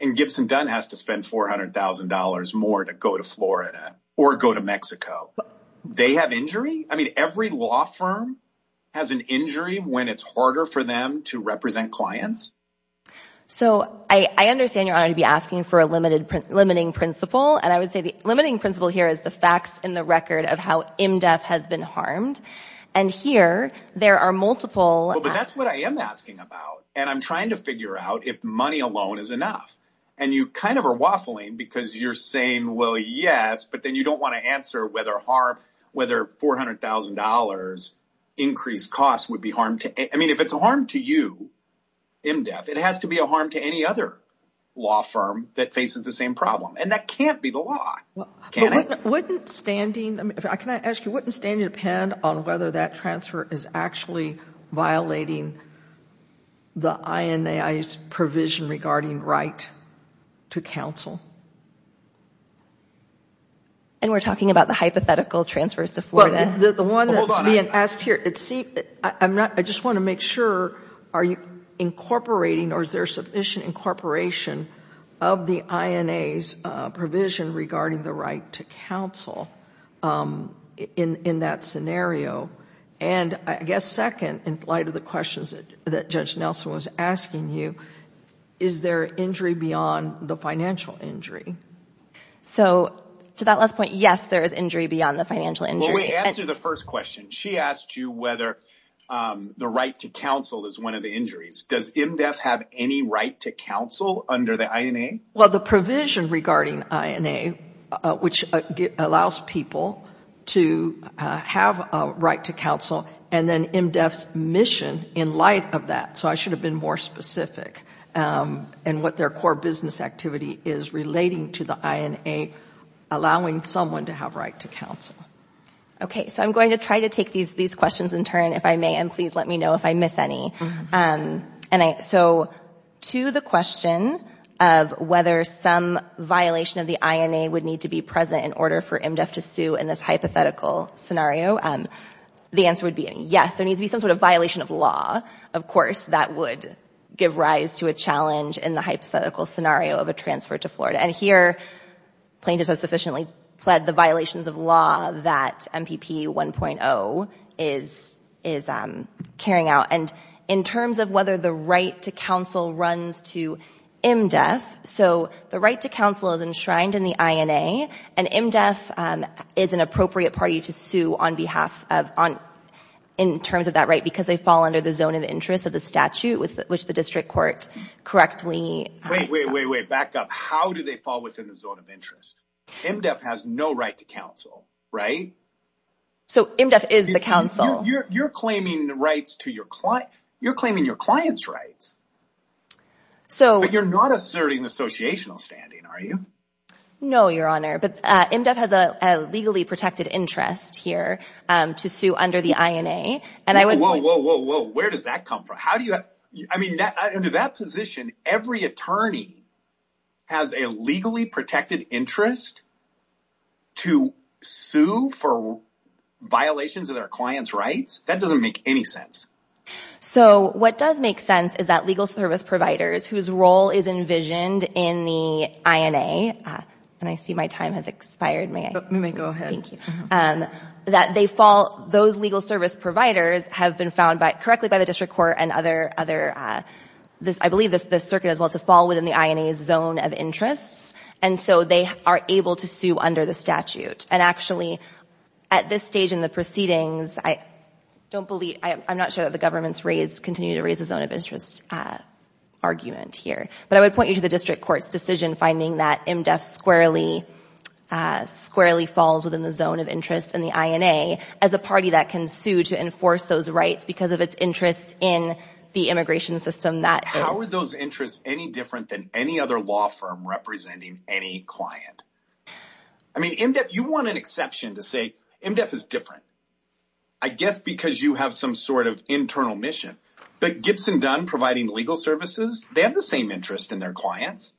and Gibson Dunn has to spend four hundred thousand dollars more to go to Florida or go to Mexico. They have injury. I mean, every law firm has an injury when it's harder for them to represent clients. So I understand you're going to be asking for a limited, limiting principle. And I would say the limiting principle here is the facts in the record of how IMDEF has been harmed. And here there are multiple. But that's what I am asking about. And I'm trying to figure out if money alone is enough. And you kind of are waffling because you're saying, well, yes, but then you don't want to answer whether harm, whether four hundred thousand dollars increased costs would be harmed. I mean, if it's a harm to you, IMDEF, it has to be a harm to any other law firm that faces the same problem. And that can't be the law. Can it? Wouldn't standing, I can ask you, wouldn't standing depend on whether that transfer is actually violating the INAI's provision regarding right to counsel? And we're talking about the hypothetical transfers to Florida. Well, the one that's being asked here, see, I'm not, I just want to make sure, are you incorporating or is there sufficient incorporation of the INAI's provision regarding the right to counsel in that scenario? And I guess, second, in light of the questions that Judge Nelson was asking you, is there injury beyond the financial injury? So to that last point, yes, there is injury beyond the financial injury. Well, we answered the first question. She asked you whether the right to counsel is one of the injuries. Does IMDEF have any right to counsel under the INAI? Well, the provision regarding INAI, which allows people to have a right to counsel and then IMDEF's mission in light of that. So I should have been more specific and what their core business activity is relating to the INAI, allowing someone to have right to counsel. Okay. So I'm going to try to take these questions in turn, if I may, and please let me know if I miss any. And so to the question of whether some violation of the INAI would need to be present in order for IMDEF to sue in this hypothetical scenario, the answer would be yes, there needs to be some sort of violation of law, of course, that would give rise to a challenge in the hypothetical scenario of a transfer to Florida. And here, plaintiffs have sufficiently pled the violations of law that MPP 1.0 is carrying out. And in terms of whether the right to counsel runs to IMDEF, so the right to counsel is enshrined in the INA and IMDEF is an appropriate party to sue on behalf of, in terms of that right, because they fall under the zone of interest of the statute with which the district court correctly. Wait, wait, wait, wait, back up. How do they fall within the zone of interest? IMDEF has no right to counsel, right? So IMDEF is the counsel. You're claiming the rights to your client. You're claiming your client's rights. So you're not asserting the associational standing, are you? No, Your Honor, but IMDEF has a legally protected interest here to sue under the INA. And I would. Whoa, whoa, whoa, whoa, where does that come from? I mean, under that position, every attorney has a legally protected interest to sue for violations of their client's rights. That doesn't make any sense. So what does make sense is that legal service providers whose role is envisioned in the INA, and I see my time has expired, may I go ahead? Thank you. That they fall, those legal service providers have been found correctly by the district court and other, I believe the circuit as well, to fall within the INA's zone of interest. And so they are able to sue under the statute. And actually at this stage in the proceedings, I don't believe, I'm not sure that the government's continued to raise the zone of interest argument here. But I would point you to the district court's decision finding that IMDEF squarely falls within the zone of interest in the INA as a party that can sue to enforce those rights because of its interests in the immigration system. How are those interests any different than any other law firm representing any client? I mean, IMDEF, you want an exception to say IMDEF is different, I guess, because you have some sort of internal mission. But Gibson Dunn providing legal services, they have the same interest in their clients.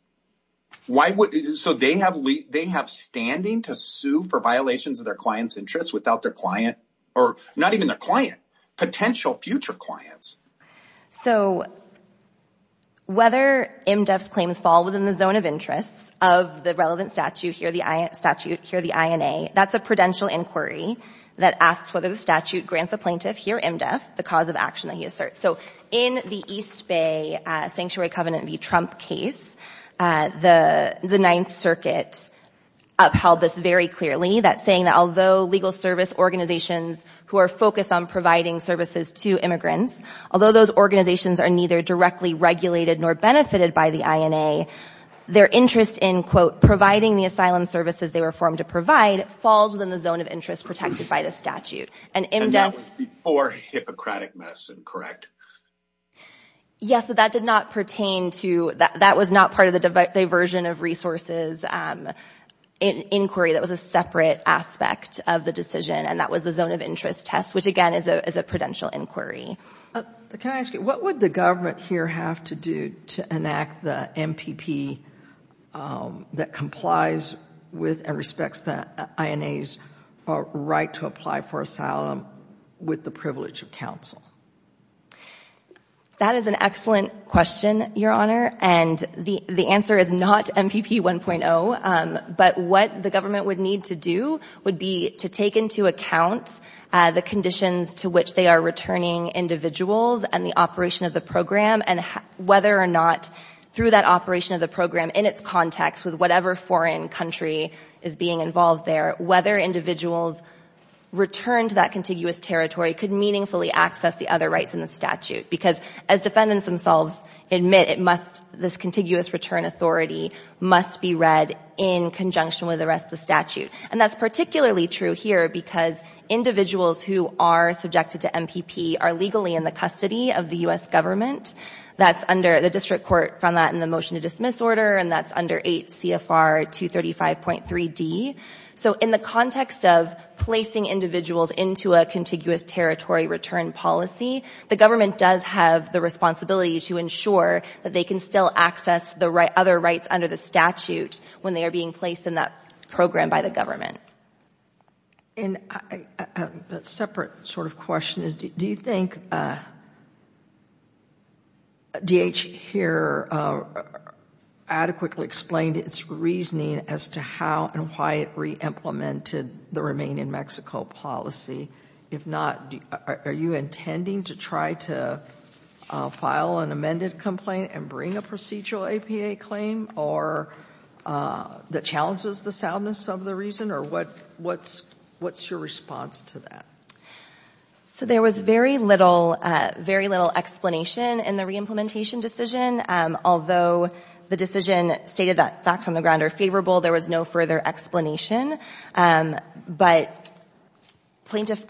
So they have standing to sue for violations of their client's interests without their client or not even the client, potential future clients. So whether IMDEF's claims fall within the zone of interest of the relevant statute here, the statute here, the INA, that's a prudential inquiry that asks whether the statute grants a plaintiff here, IMDEF, the cause of action that he asserts. So in the East Bay Sanctuary Covenant v. Trump case, the Ninth Circuit upheld this very clearly, that saying that although legal service organizations who are focused on providing services to immigrants, although those organizations are neither directly regulated nor benefited by the INA, their interest in, quote, providing the asylum services they were formed to provide falls within the zone of interest protected by the statute. And that was before Hippocratic Medicine, correct? Yes, but that did not pertain to that. That was not part of the diversion of resources inquiry. That was a separate aspect of the decision, and that was the zone of interest test, which again is a prudential inquiry. Can I ask you, what would the government here have to do to enact the MPP that complies with and respects the INA's right to apply for asylum with the privilege of counsel? That is an excellent question, Your Honor, and the answer is not MPP 1.0. But what the government would need to do would be to take into account the conditions to which they are returning individuals and the operation of the program, and whether or not through that operation of the program in its context with whatever foreign country is being involved there, whether individuals return to that contiguous territory could meaningfully access the other rights in the statute, because as defendants themselves admit, it must, this contiguous return authority must be read in conjunction with the rest of the statute. And that's particularly true here because individuals who are subjected to MPP are legally in the custody of the U.S. government. That's under, the district court found that in the motion to dismiss order, and that's under 8 CFR 235.3D. So in the context of placing individuals into a contiguous territory return policy, the government does have the responsibility to ensure that they can still access the other rights under the statute when they are being placed in that program by the government. And a separate sort of question is, do you think DH here adequately explained its reasoning as to how and why it re-implemented the Remain in Mexico policy? If not, are you intending to try to file an amended complaint and bring a procedural APA claim or, that challenges the soundness of the reason? Or what, what's, what's your response to that? So there was very little, very little explanation in the re-implementation decision. Although the decision stated that facts on the ground are favorable, there was no further explanation. But plaintiff,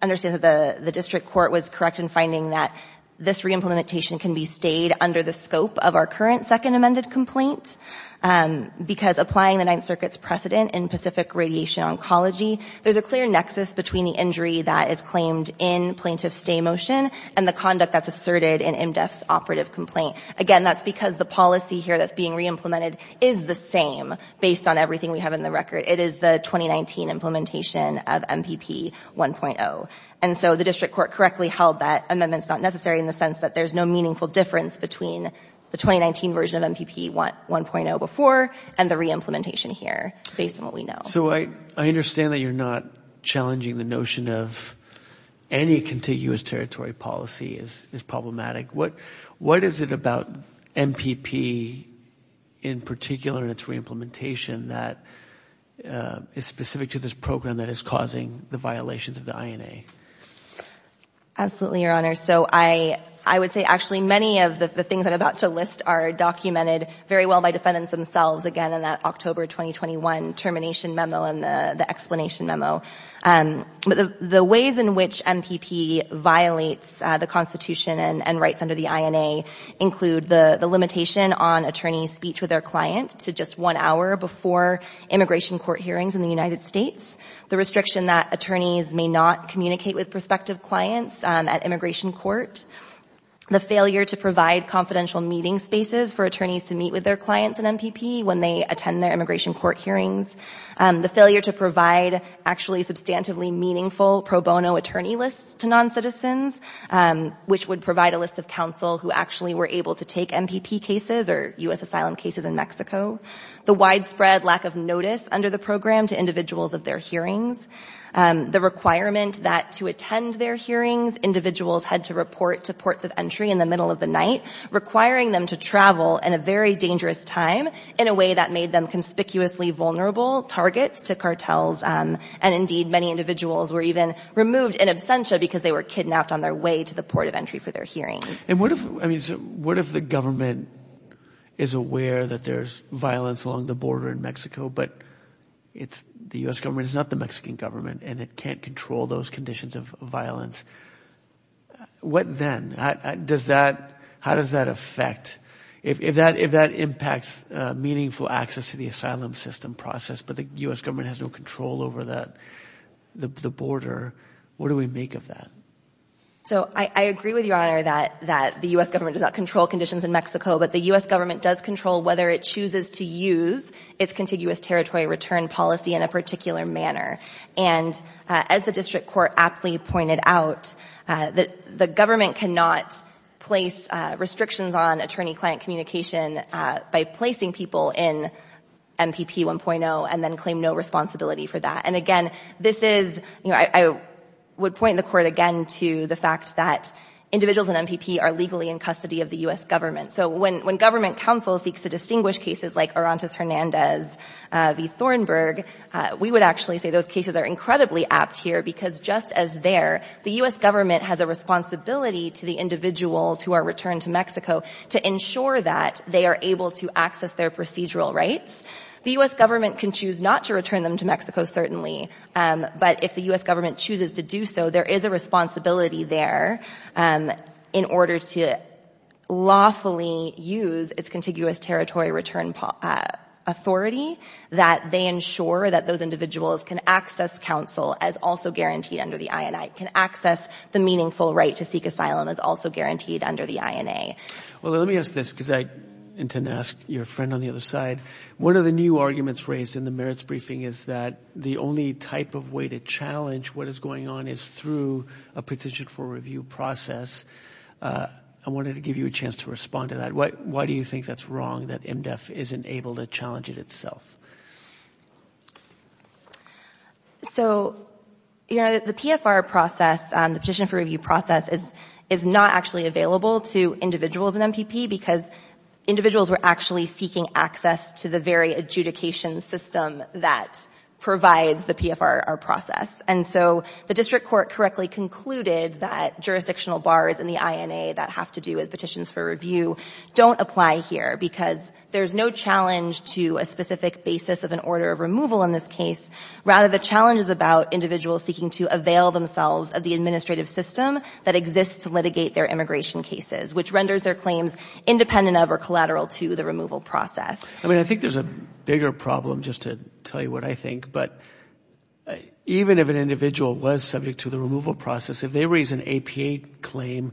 understand that the district court was correct in finding that this re-implementation can be stayed under the scope of our current second amended complaint, because applying the Ninth Circuit's precedent in Pacific Radiation Oncology, there's a clear nexus between the injury that is claimed in plaintiff's stay motion and the conduct that's asserted in MDEF's operative complaint. Again, that's because the policy here that's being re-implemented is the same based on everything we have in the record. It is the 2019 implementation of MPP 1.0. And so the district court correctly held that amendment's not necessary in the case, that there's no meaningful difference between the 2019 version of MPP 1.0 before and the re-implementation here based on what we know. So I, I understand that you're not challenging the notion of any contiguous territory policy is, is problematic. What, what is it about MPP in particular and its re-implementation that is specific to this program that is causing the violations of the INA? Absolutely, Your Honor. So I, I would say actually many of the things I'm about to list are documented very well by defendants themselves. Again, in that October 2021 termination memo and the, the explanation memo. But the, the ways in which MPP violates the constitution and, and rights under the INA include the, the limitation on attorney's speech with their client to just one hour before immigration court hearings in the United States, the restriction that attorneys may not communicate with prospective clients at immigration court, the failure to provide confidential meeting spaces for attorneys to meet with their clients in MPP when they attend their immigration court hearings, the failure to provide actually substantively meaningful pro bono attorney lists to non-citizens, which would provide a list of counsel who actually were able to take MPP cases or US asylum cases in Mexico, the widespread lack of notice under the program to individuals of their hearings, the requirement that to attend their hearings, individuals had to report to ports of entry in the middle of the night, requiring them to travel in a very dangerous time in a way that made them conspicuously vulnerable targets to cartels. And indeed many individuals were even removed in absentia because they were kidnapped on their way to the port of entry for their hearings. And what if, I mean, what if the government is aware that there's violence along the border in Mexico, but it's the US government is not the Mexican government and it can't control those conditions of violence. What then, how does that affect, if that impacts meaningful access to the asylum system process, but the US government has no control over the border, what do we make of that? So I agree with your honor that the US government does not control conditions in Mexico, but the US government does control whether it chooses to use its contiguous territory return policy in a particular manner. And as the district court aptly pointed out, that the government cannot place restrictions on attorney client communication by placing people in MPP 1.0 and then claim no responsibility for that. And again, this is, you know, I would point the court again to the fact that individuals in MPP are legally in custody of the US government. So when, when government counsel seeks to distinguish cases like Arantas Hernandez v. Thornburg, we would actually say those cases are incredibly apt here because just as there, the US government has a responsibility to the individuals who are returned to Mexico to ensure that they are able to access their procedural rights. The US government can choose not to return them to Mexico, certainly. But if the US government chooses to do so, there is a responsibility there in order to lawfully use its contiguous territory return authority that they ensure that those individuals can access counsel as also guaranteed under the INA, can access the meaningful right to seek asylum as also guaranteed under the INA. Well, let me ask this because I intend to ask your friend on the other side. One of the new arguments raised in the merits briefing is that the only type of way to challenge what is going on is through a petition for review process. I wanted to give you a chance to respond to that. Why, why do you think that's wrong that MDEF isn't able to challenge it itself? So, you know, the PFR process, the petition for review process is, is not actually available to individuals in MPP because individuals were actually seeking access to the very adjudication system that provides the PFR process. And so the district court correctly concluded that jurisdictional bars in the INA that have to do with petitions for review don't apply here because there's no challenge to a specific basis of an order of removal in this case. Rather, the challenge is about individuals seeking to avail themselves of the administrative system that exists to litigate their immigration cases, which renders their claims independent of or collateral to the removal process. I mean, I think there's a bigger problem just to tell you what I think, but even if an individual was subject to the removal process, if they raise an APA claim,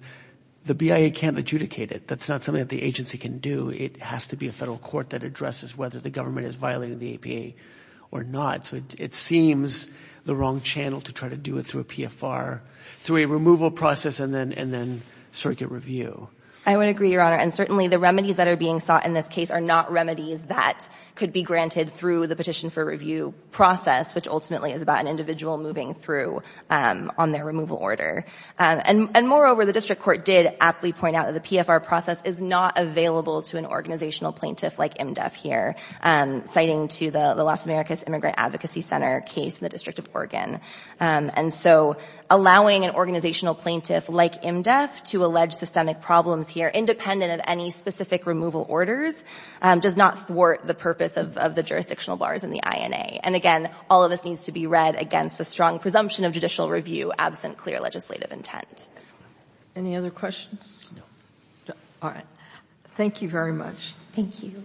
the BIA can't adjudicate it. That's not something that the agency can do. It has to be a federal court that addresses whether the government is violating the APA or not. So it seems the wrong channel to try to do it through a PFR, through a removal process, and then, and then circuit review. I would agree, Your Honor. And certainly the remedies that are being sought in this case are not remedies that could be granted through the petition for review process, which ultimately is about an individual moving through on their removal order. And moreover, the district court did aptly point out that the PFR process is not available to an organizational plaintiff like IMDEF here, citing to the Las Americas Immigrant Advocacy Center case in the District of Oregon. And so allowing an organizational plaintiff like IMDEF to allege systemic problems here, independent of any specific removal orders, does not thwart the purpose of the jurisdictional bars in the INA. And again, all of this needs to be read against the strong presumption of judicial review, absent clear legislative intent. Any other questions? No. All right. Thank you very much. Thank you.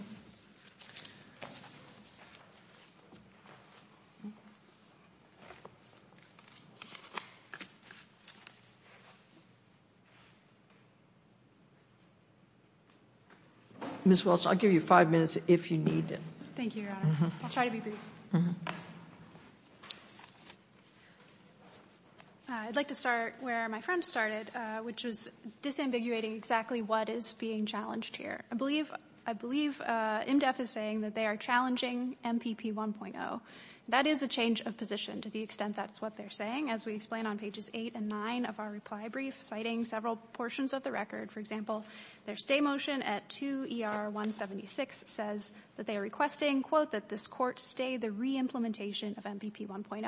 Ms. Wilson, I'll give you five minutes if you need it. Thank you, Your Honor. I'll try to be brief. I'd like to start where my friend started, which was disambiguating exactly what is being challenged here. I believe, I believe IMDEF is saying that they are challenging MPP 1.0. That is a change of position to the extent that's what they're saying. As we explain on pages eight and nine of our reply brief, citing several portions of the record, for example, their stay motion at 2 ER 176 says that they are requesting, quote, that this court stay the re-implementation of MPP 1.0 and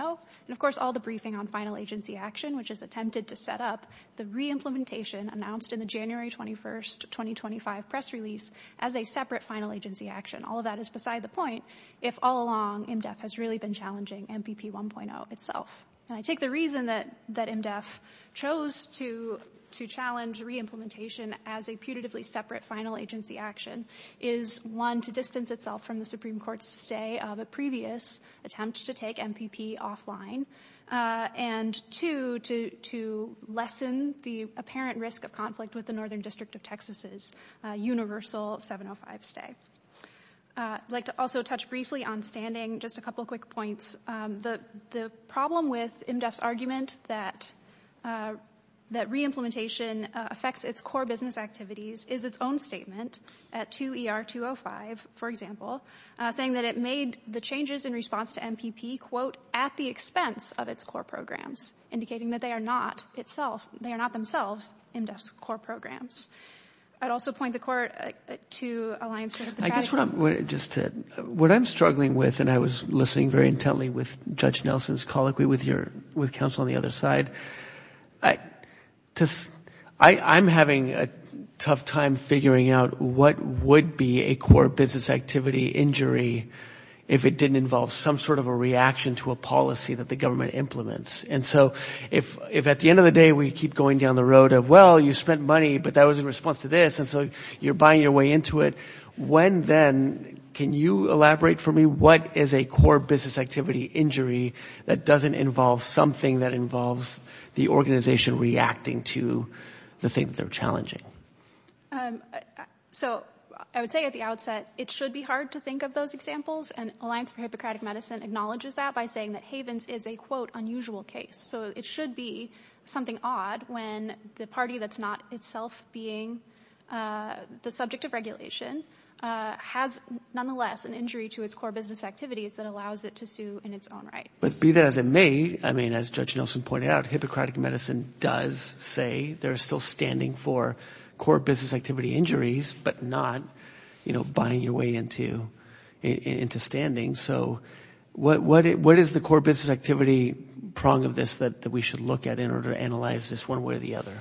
of course, all the briefing on final agency action, which is attempted to set up the re-implementation announced in the January 21st, 2025 press release as a separate final agency action. All of that is beside the point if all along IMDEF has really been challenging MPP 1.0 itself. And I take the reason that, that IMDEF chose to, to challenge re-implementation as a putatively separate final agency action is one to distance itself from the Supreme Court's stay of a previous attempt to take MPP offline. And two, to, to lessen the apparent risk of conflict with the Northern District of Texas's universal 705 stay. I'd like to also touch briefly on standing, just a couple of quick points. The, the problem with IMDEF's argument that, that re-implementation affects its core business activities is its own statement at 2 ER 205, for example. Saying that it made the changes in response to MPP quote, at the expense of its core programs, indicating that they are not itself, they are not themselves IMDEF's core programs. I'd also point the court to Alliance for Democratic- I guess what I'm, just to, what I'm struggling with, and I was listening very intently with Judge Nelson's colloquy with your, with counsel on the other side, I, to, I, I'm having a tough time figuring out what would be a core business activity injury if it didn't involve some sort of a reaction to a policy that the government implements. And so if, if at the end of the day, we keep going down the road of, well, you spent money, but that was in response to this, and so you're buying your way into it, when then, can you elaborate for me, what is a core business activity injury that doesn't involve something that involvess the organization reacting to the thing that they're challenging? So I would say at the outset, it should be hard to think of those examples. And Alliance for Hippocratic Medicine acknowledges that by saying that Havens is a quote, unusual case. So it should be something odd when the party that's not itself being, uh, the subject of regulation, uh, has nonetheless an injury to its core business activities that allows it to sue in its own right. But be that as it may, I mean, as Judge Nelson pointed out, Hippocratic core business activity injuries, but not, you know, buying your way into, into standing. So what, what, what is the core business activity prong of this that we should look at in order to analyze this one way or the other?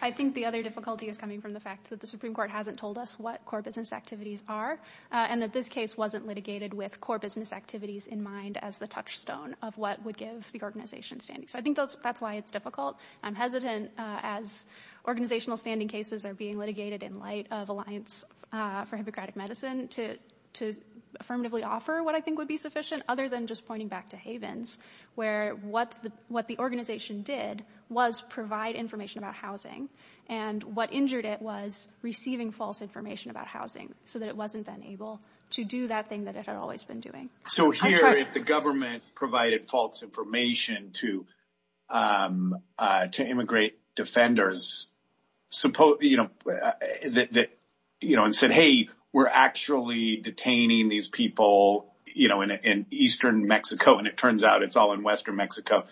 I think the other difficulty is coming from the fact that the Supreme Court hasn't told us what core business activities are, uh, and that this case wasn't litigated with core business activities in mind as the touchstone of what would give the organization standing. So I think those, that's why it's difficult. I'm hesitant, uh, as organizational standing cases are being litigated in light of Alliance, uh, for Hippocratic Medicine to, to affirmatively offer what I think would be sufficient other than just pointing back to Havens, where what the, what the organization did was provide information about housing and what injured it was receiving false information about housing so that it wasn't then able to do that thing that it had always been doing. So here, if the government provided false information to, um, uh, to immigrate defenders, supposedly, you know, that, that, you know, and said, Hey, we're actually detaining these people, you know, in, in Eastern Mexico. And it turns out it's all in Western Mexico,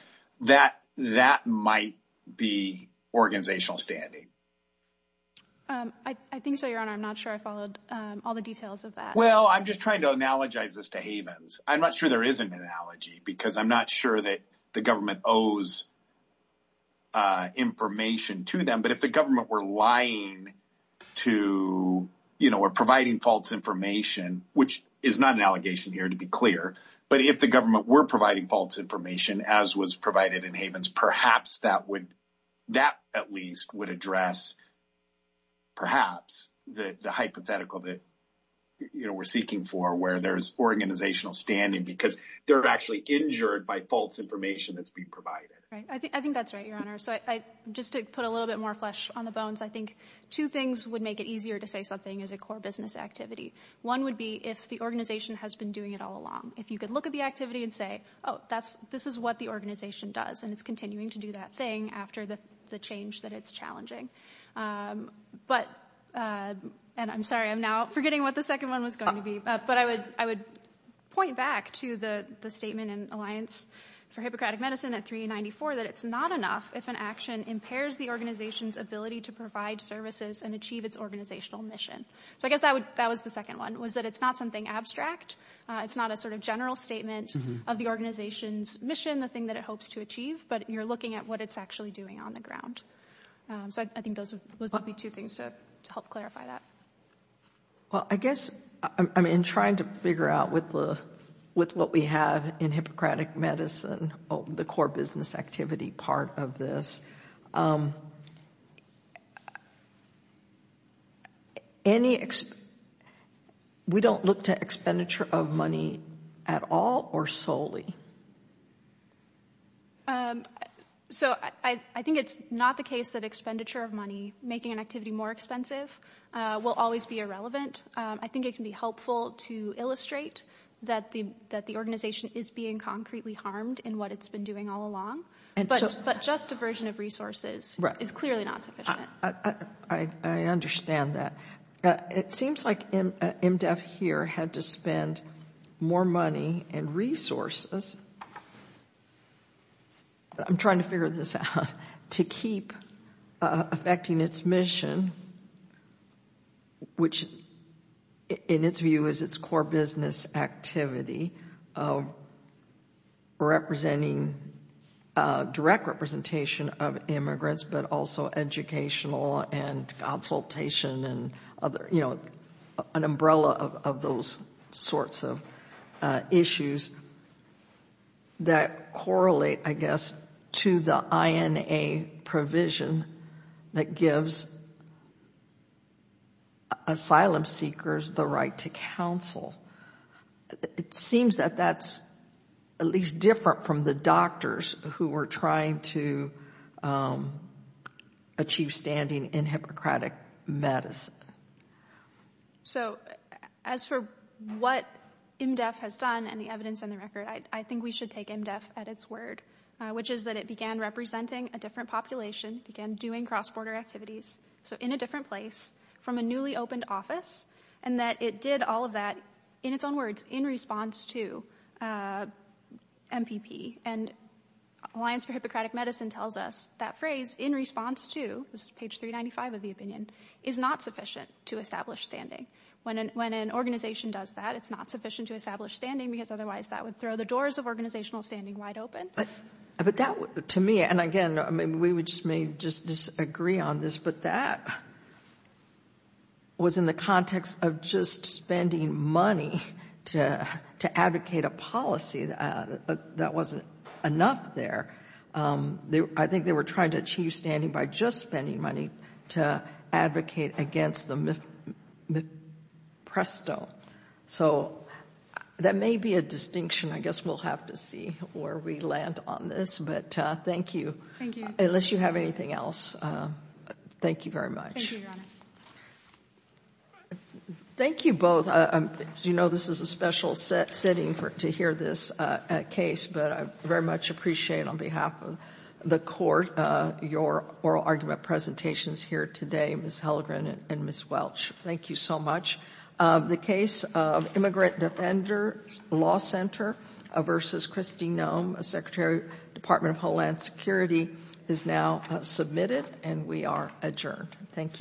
that, that might be organizational standing. Um, I, I think so, Your Honor. I'm not sure I followed, um, all the details of that. Well, I'm just trying to analogize this to Havens. I'm not sure there is an analogy because I'm not sure that the government owes, uh, information to them. But if the government were lying to, you know, or providing false information, which is not an allegation here, to be clear, but if the government were providing false information as was provided in Havens, perhaps that would, that at least would address perhaps the hypothetical that, you know, we're seeking for where there's organizational standing because they're actually injured by false information that's being provided. Right. I think, I think that's right, Your Honor. So I, just to put a little bit more flesh on the bones, I think two things would make it easier to say something is a core business activity. One would be if the organization has been doing it all along, if you could look at the activity and say, Oh, that's, this is what the organization does. And it's continuing to do that thing after the, the change that it's challenging. But, uh, and I'm sorry, I'm now forgetting what the second one was going to be, but I would, I would point back to the statement in Alliance for Hippocratic Medicine at 394, that it's not enough if an action impairs the organization's ability to provide services and achieve its organizational mission. So I guess that would, that was the second one was that it's not something abstract, it's not a sort of general statement of the organization's mission, the thing that it hopes to achieve, but you're looking at what it's actually doing on the ground. So I think those would be two things to help clarify that. Well, I guess I'm in trying to figure out with the, with what we have in Hippocratic Medicine, the core business activity part of this, any, we don't look to expenditure of money at all or solely. Um, so I, I think it's not the case that expenditure of money, making an activity more expensive, uh, will always be irrelevant. Um, I think it can be helpful to illustrate that the, that the organization is being concretely harmed in what it's been doing all along, but, but just a version of resources is clearly not sufficient. Uh, I, I understand that. Uh, it seems like MDEF here had to spend more money and resources on this, but I'm trying to figure this out, to keep affecting its mission, which in its view is its core business activity of representing, uh, direct representation of immigrants, but also educational and consultation and other, you know, an umbrella of, of those sorts of, uh, issues. That correlate, I guess, to the INA provision that gives asylum seekers the right to counsel. It seems that that's at least different from the doctors who were trying to, um, achieve standing in Hippocratic Medicine. So as for what MDEF has done and the evidence on the record, I think we should take MDEF at its word, uh, which is that it began representing a different population, began doing cross-border activities. So in a different place from a newly opened office, and that it did all of that in its own words, in response to, uh, MPP and Alliance for Hippocratic Medicine tells us that phrase in response to, this is page 395 of the opinion, is not sufficient to establish standing. When an, when an organization does that, it's not sufficient to establish the powers of organizational standing wide open. But that to me, and again, I mean, we would just may just disagree on this, but that was in the context of just spending money to, to advocate a policy that, uh, that wasn't enough there. Um, they, I think they were trying to achieve standing by just spending money to advocate against the MIP, MIPPRESTO. So that may be a distinction. I guess we'll have to see where we land on this, but, uh, thank you. Unless you have anything else. Um, thank you very much. Thank you both. Um, you know, this is a special setting for, to hear this, uh, case, but I very much appreciate on behalf of the court, uh, your oral argument presentations here today, Ms. Hellegren and Ms. Welch. Thank you so much. Uh, the case of Immigrant Defender Law Center, uh, versus Kristi Noem, Secretary, Department of Homeland Security is now submitted and we are adjourned. Thank you.